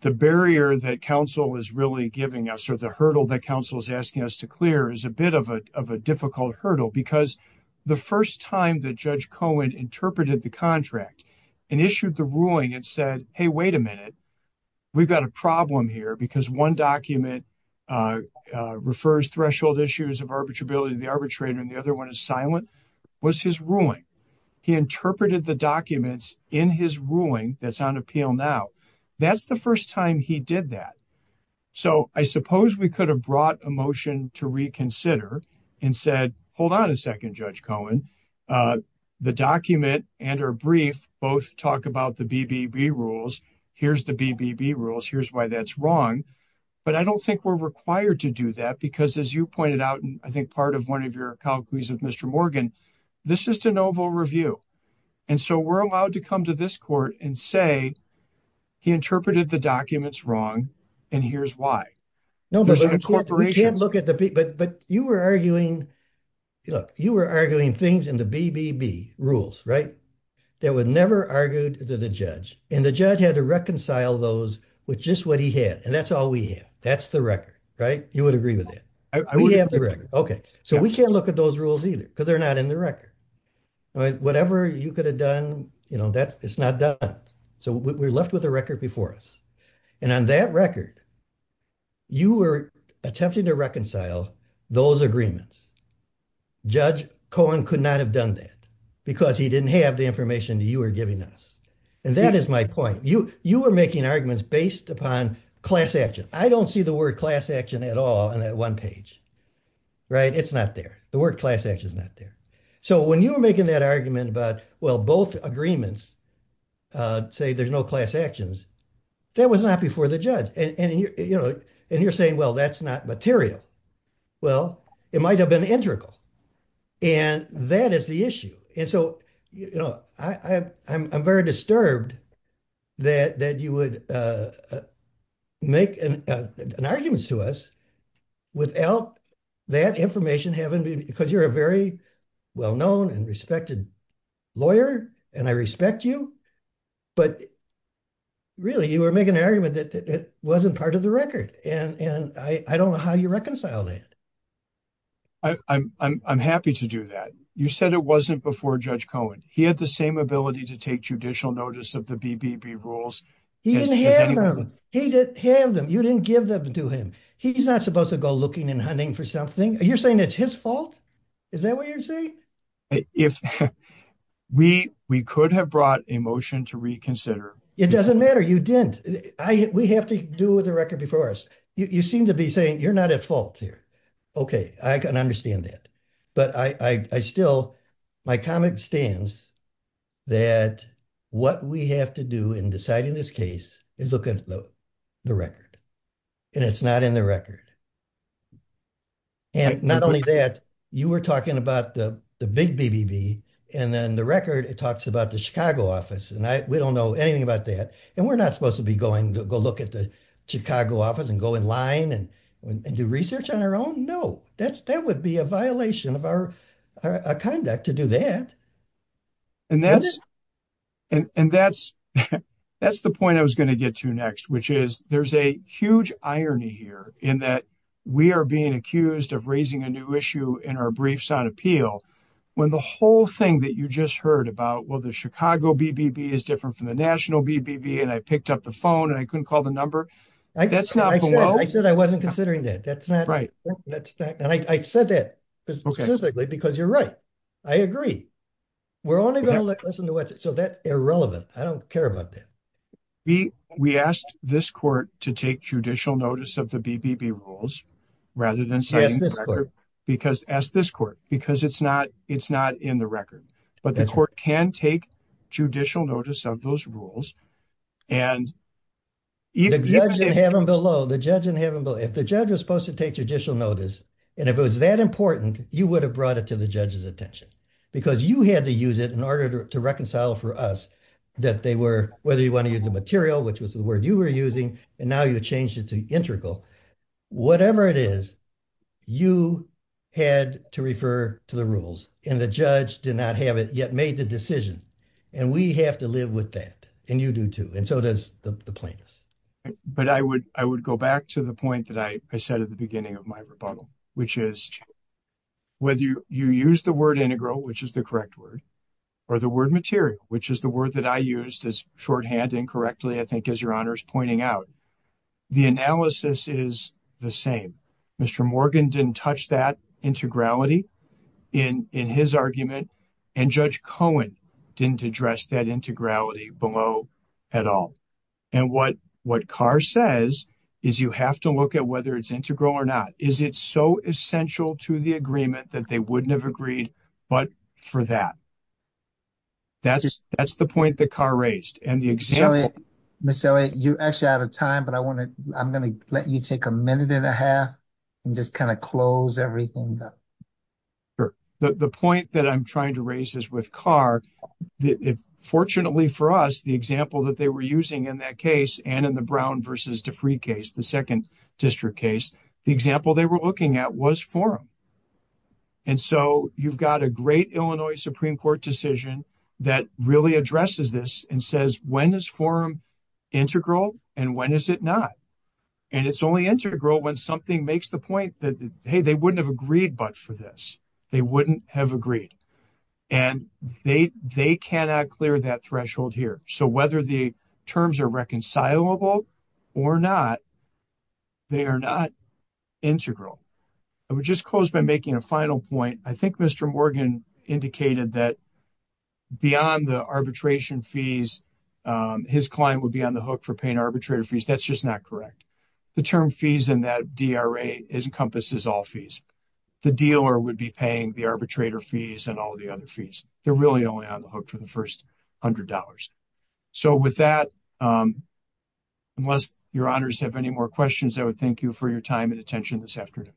the barrier that counsel is really giving us or the hurdle that counsel is asking us to clear is a bit of a difficult hurdle because the first time that Judge Cohen interpreted the contract and issued the ruling and said, hey, wait a minute, we've got a problem here because one document refers threshold issues of arbitrability to the arbitrator and the other one is silent, was his ruling. He interpreted the documents in his ruling that's on appeal now. That's the first time he did that. So I suppose we could have brought a motion to reconsider and said, hold on a second, Judge Cohen, the document and our brief both talk about the BBB rules. Here's the BBB rules. Here's why that's wrong. But I don't think we're required to do that because as you pointed out, and I think part of one of your inquiries with Mr. Morgan, this is de novo review. And so we're allowed to come to this court and say he interpreted the documents wrong and here's why. No, but you can't look at the, but you were arguing, look, you were arguing things in the BBB rules, right? That was never argued to the judge and the judge had to reconcile those with just what he had. And that's all we have. That's the record, right? You would agree with that. We have the record. Okay. So we can't look at those rules either because they're not in the record. Whatever you could have done, you know, that's, it's not done. So we're left with a record before us. And on that record, you were attempting to reconcile those agreements. Judge Cohen could not have done that because he didn't have the information that you were giving us. And that is my point. You, you were making arguments based upon class action. I don't see the word class action at all on that one page. Right. It's not there. The word class action is not there. So when you were making that argument about, well, both agreements say there's no class actions. That was not before the judge. And, and, you know, and you're saying, well, that's not material. Well, it might've been integral. And that is the issue. And so, you know, I, I, I'm, I'm very disturbed that, that you would make an, an arguments to us without that information having been, because you're a very well-known and respected lawyer and I respect you, but really you were making an argument that it wasn't part of the record. And, and I, I don't know how you reconcile that. I, I'm, I'm, I'm happy to do that. You said it wasn't before Judge Cohen. He had the same ability to take judicial notice of the BBB rules. He didn't have them. He didn't have them. You didn't give them to him. He's not supposed to go looking and hunting for something. You're saying it's his fault. Is that what you're saying? If we, we could have brought a motion to reconsider. It doesn't matter. You didn't, I, we have to do with the record before us. You seem to be saying you're not at fault here. Okay. I can understand that. But I, I, I still, my comment stands that what we have to do in deciding this case is the record. And it's not in the record. And not only that, you were talking about the big BBB and then the record, it talks about the Chicago office. And I, we don't know anything about that. And we're not supposed to be going to go look at the Chicago office and go in line and do research on our own. No, that's, that would be a violation of our, our conduct to do that. And that's, and that's, that's the point I was going to get to next, which is there's a huge irony here in that we are being accused of raising a new issue in our briefs on appeal when the whole thing that you just heard about, well, the Chicago BBB is different from the national BBB. And I picked up the phone and I couldn't call the number. That's not, I said, I wasn't considering that. That's not right. That's not, and I said that specifically because you're right. I agree. We're only going to listen to what, so that's irrelevant. I don't care about that. We, we asked this court to take judicial notice of the BBB rules rather than saying, because as this court, because it's not, it's not in the record, but the court can take judicial notice of those rules. And even if you have them below the judge in heaven, but if the judge was supposed to take judicial notice, and if it was that important, you would have brought it to the judge's attention because you had to use it in order to reconcile for us that they were, whether you want to use the material, which was the word you were using, and now you changed it to integral, whatever it is, you had to refer to the rules and the judge did not have it yet made the decision. And we have to live with that. And you do too. And so does the plaintiffs. But I would, I would go back to the point that I said at the beginning of my rebuttal, which is whether you use the word integral, which is the correct word, or the word material, which is the word that I used as shorthand incorrectly, I think, as your honor's pointing out, the analysis is the same. Mr. Morgan didn't touch that integrality in, in his argument. And Judge Cohen didn't address that integrality below at all. And what, what Carr says is you have to look at whether it's integral or not. Is it so essential to the agreement that they wouldn't have agreed? But for that, that's, that's the point that Carr raised. And the example. Ms. Elliot, you're actually out of time, but I want to, I'm going to let you take a minute and a half and just kind of close everything up. Sure. The point that I'm trying to raise is with Carr, fortunately for us, the example that they were using in that case, and in the Brown versus Defree case, the second district case, the example they were looking at was forum. And so you've got a great Illinois Supreme Court decision that really addresses this and says, when is forum integral and when is it not? And it's only integral when something makes the point that, hey, they wouldn't have agreed, but for this, they wouldn't have agreed. And they, they cannot clear that threshold here. So whether the terms are reconcilable or not, they are not integral. I would just close by making a final point. I think Mr. Morgan indicated that beyond the arbitration fees, his client would be on the hook for paying arbitrator fees. That's just not correct. The term fees in that DRA encompasses all fees. The dealer would be paying the arbitrator fees and all the other fees. They're really only on the hook for the first $100. So with that, unless your honors have any more questions, I would thank you for your time and attention this afternoon.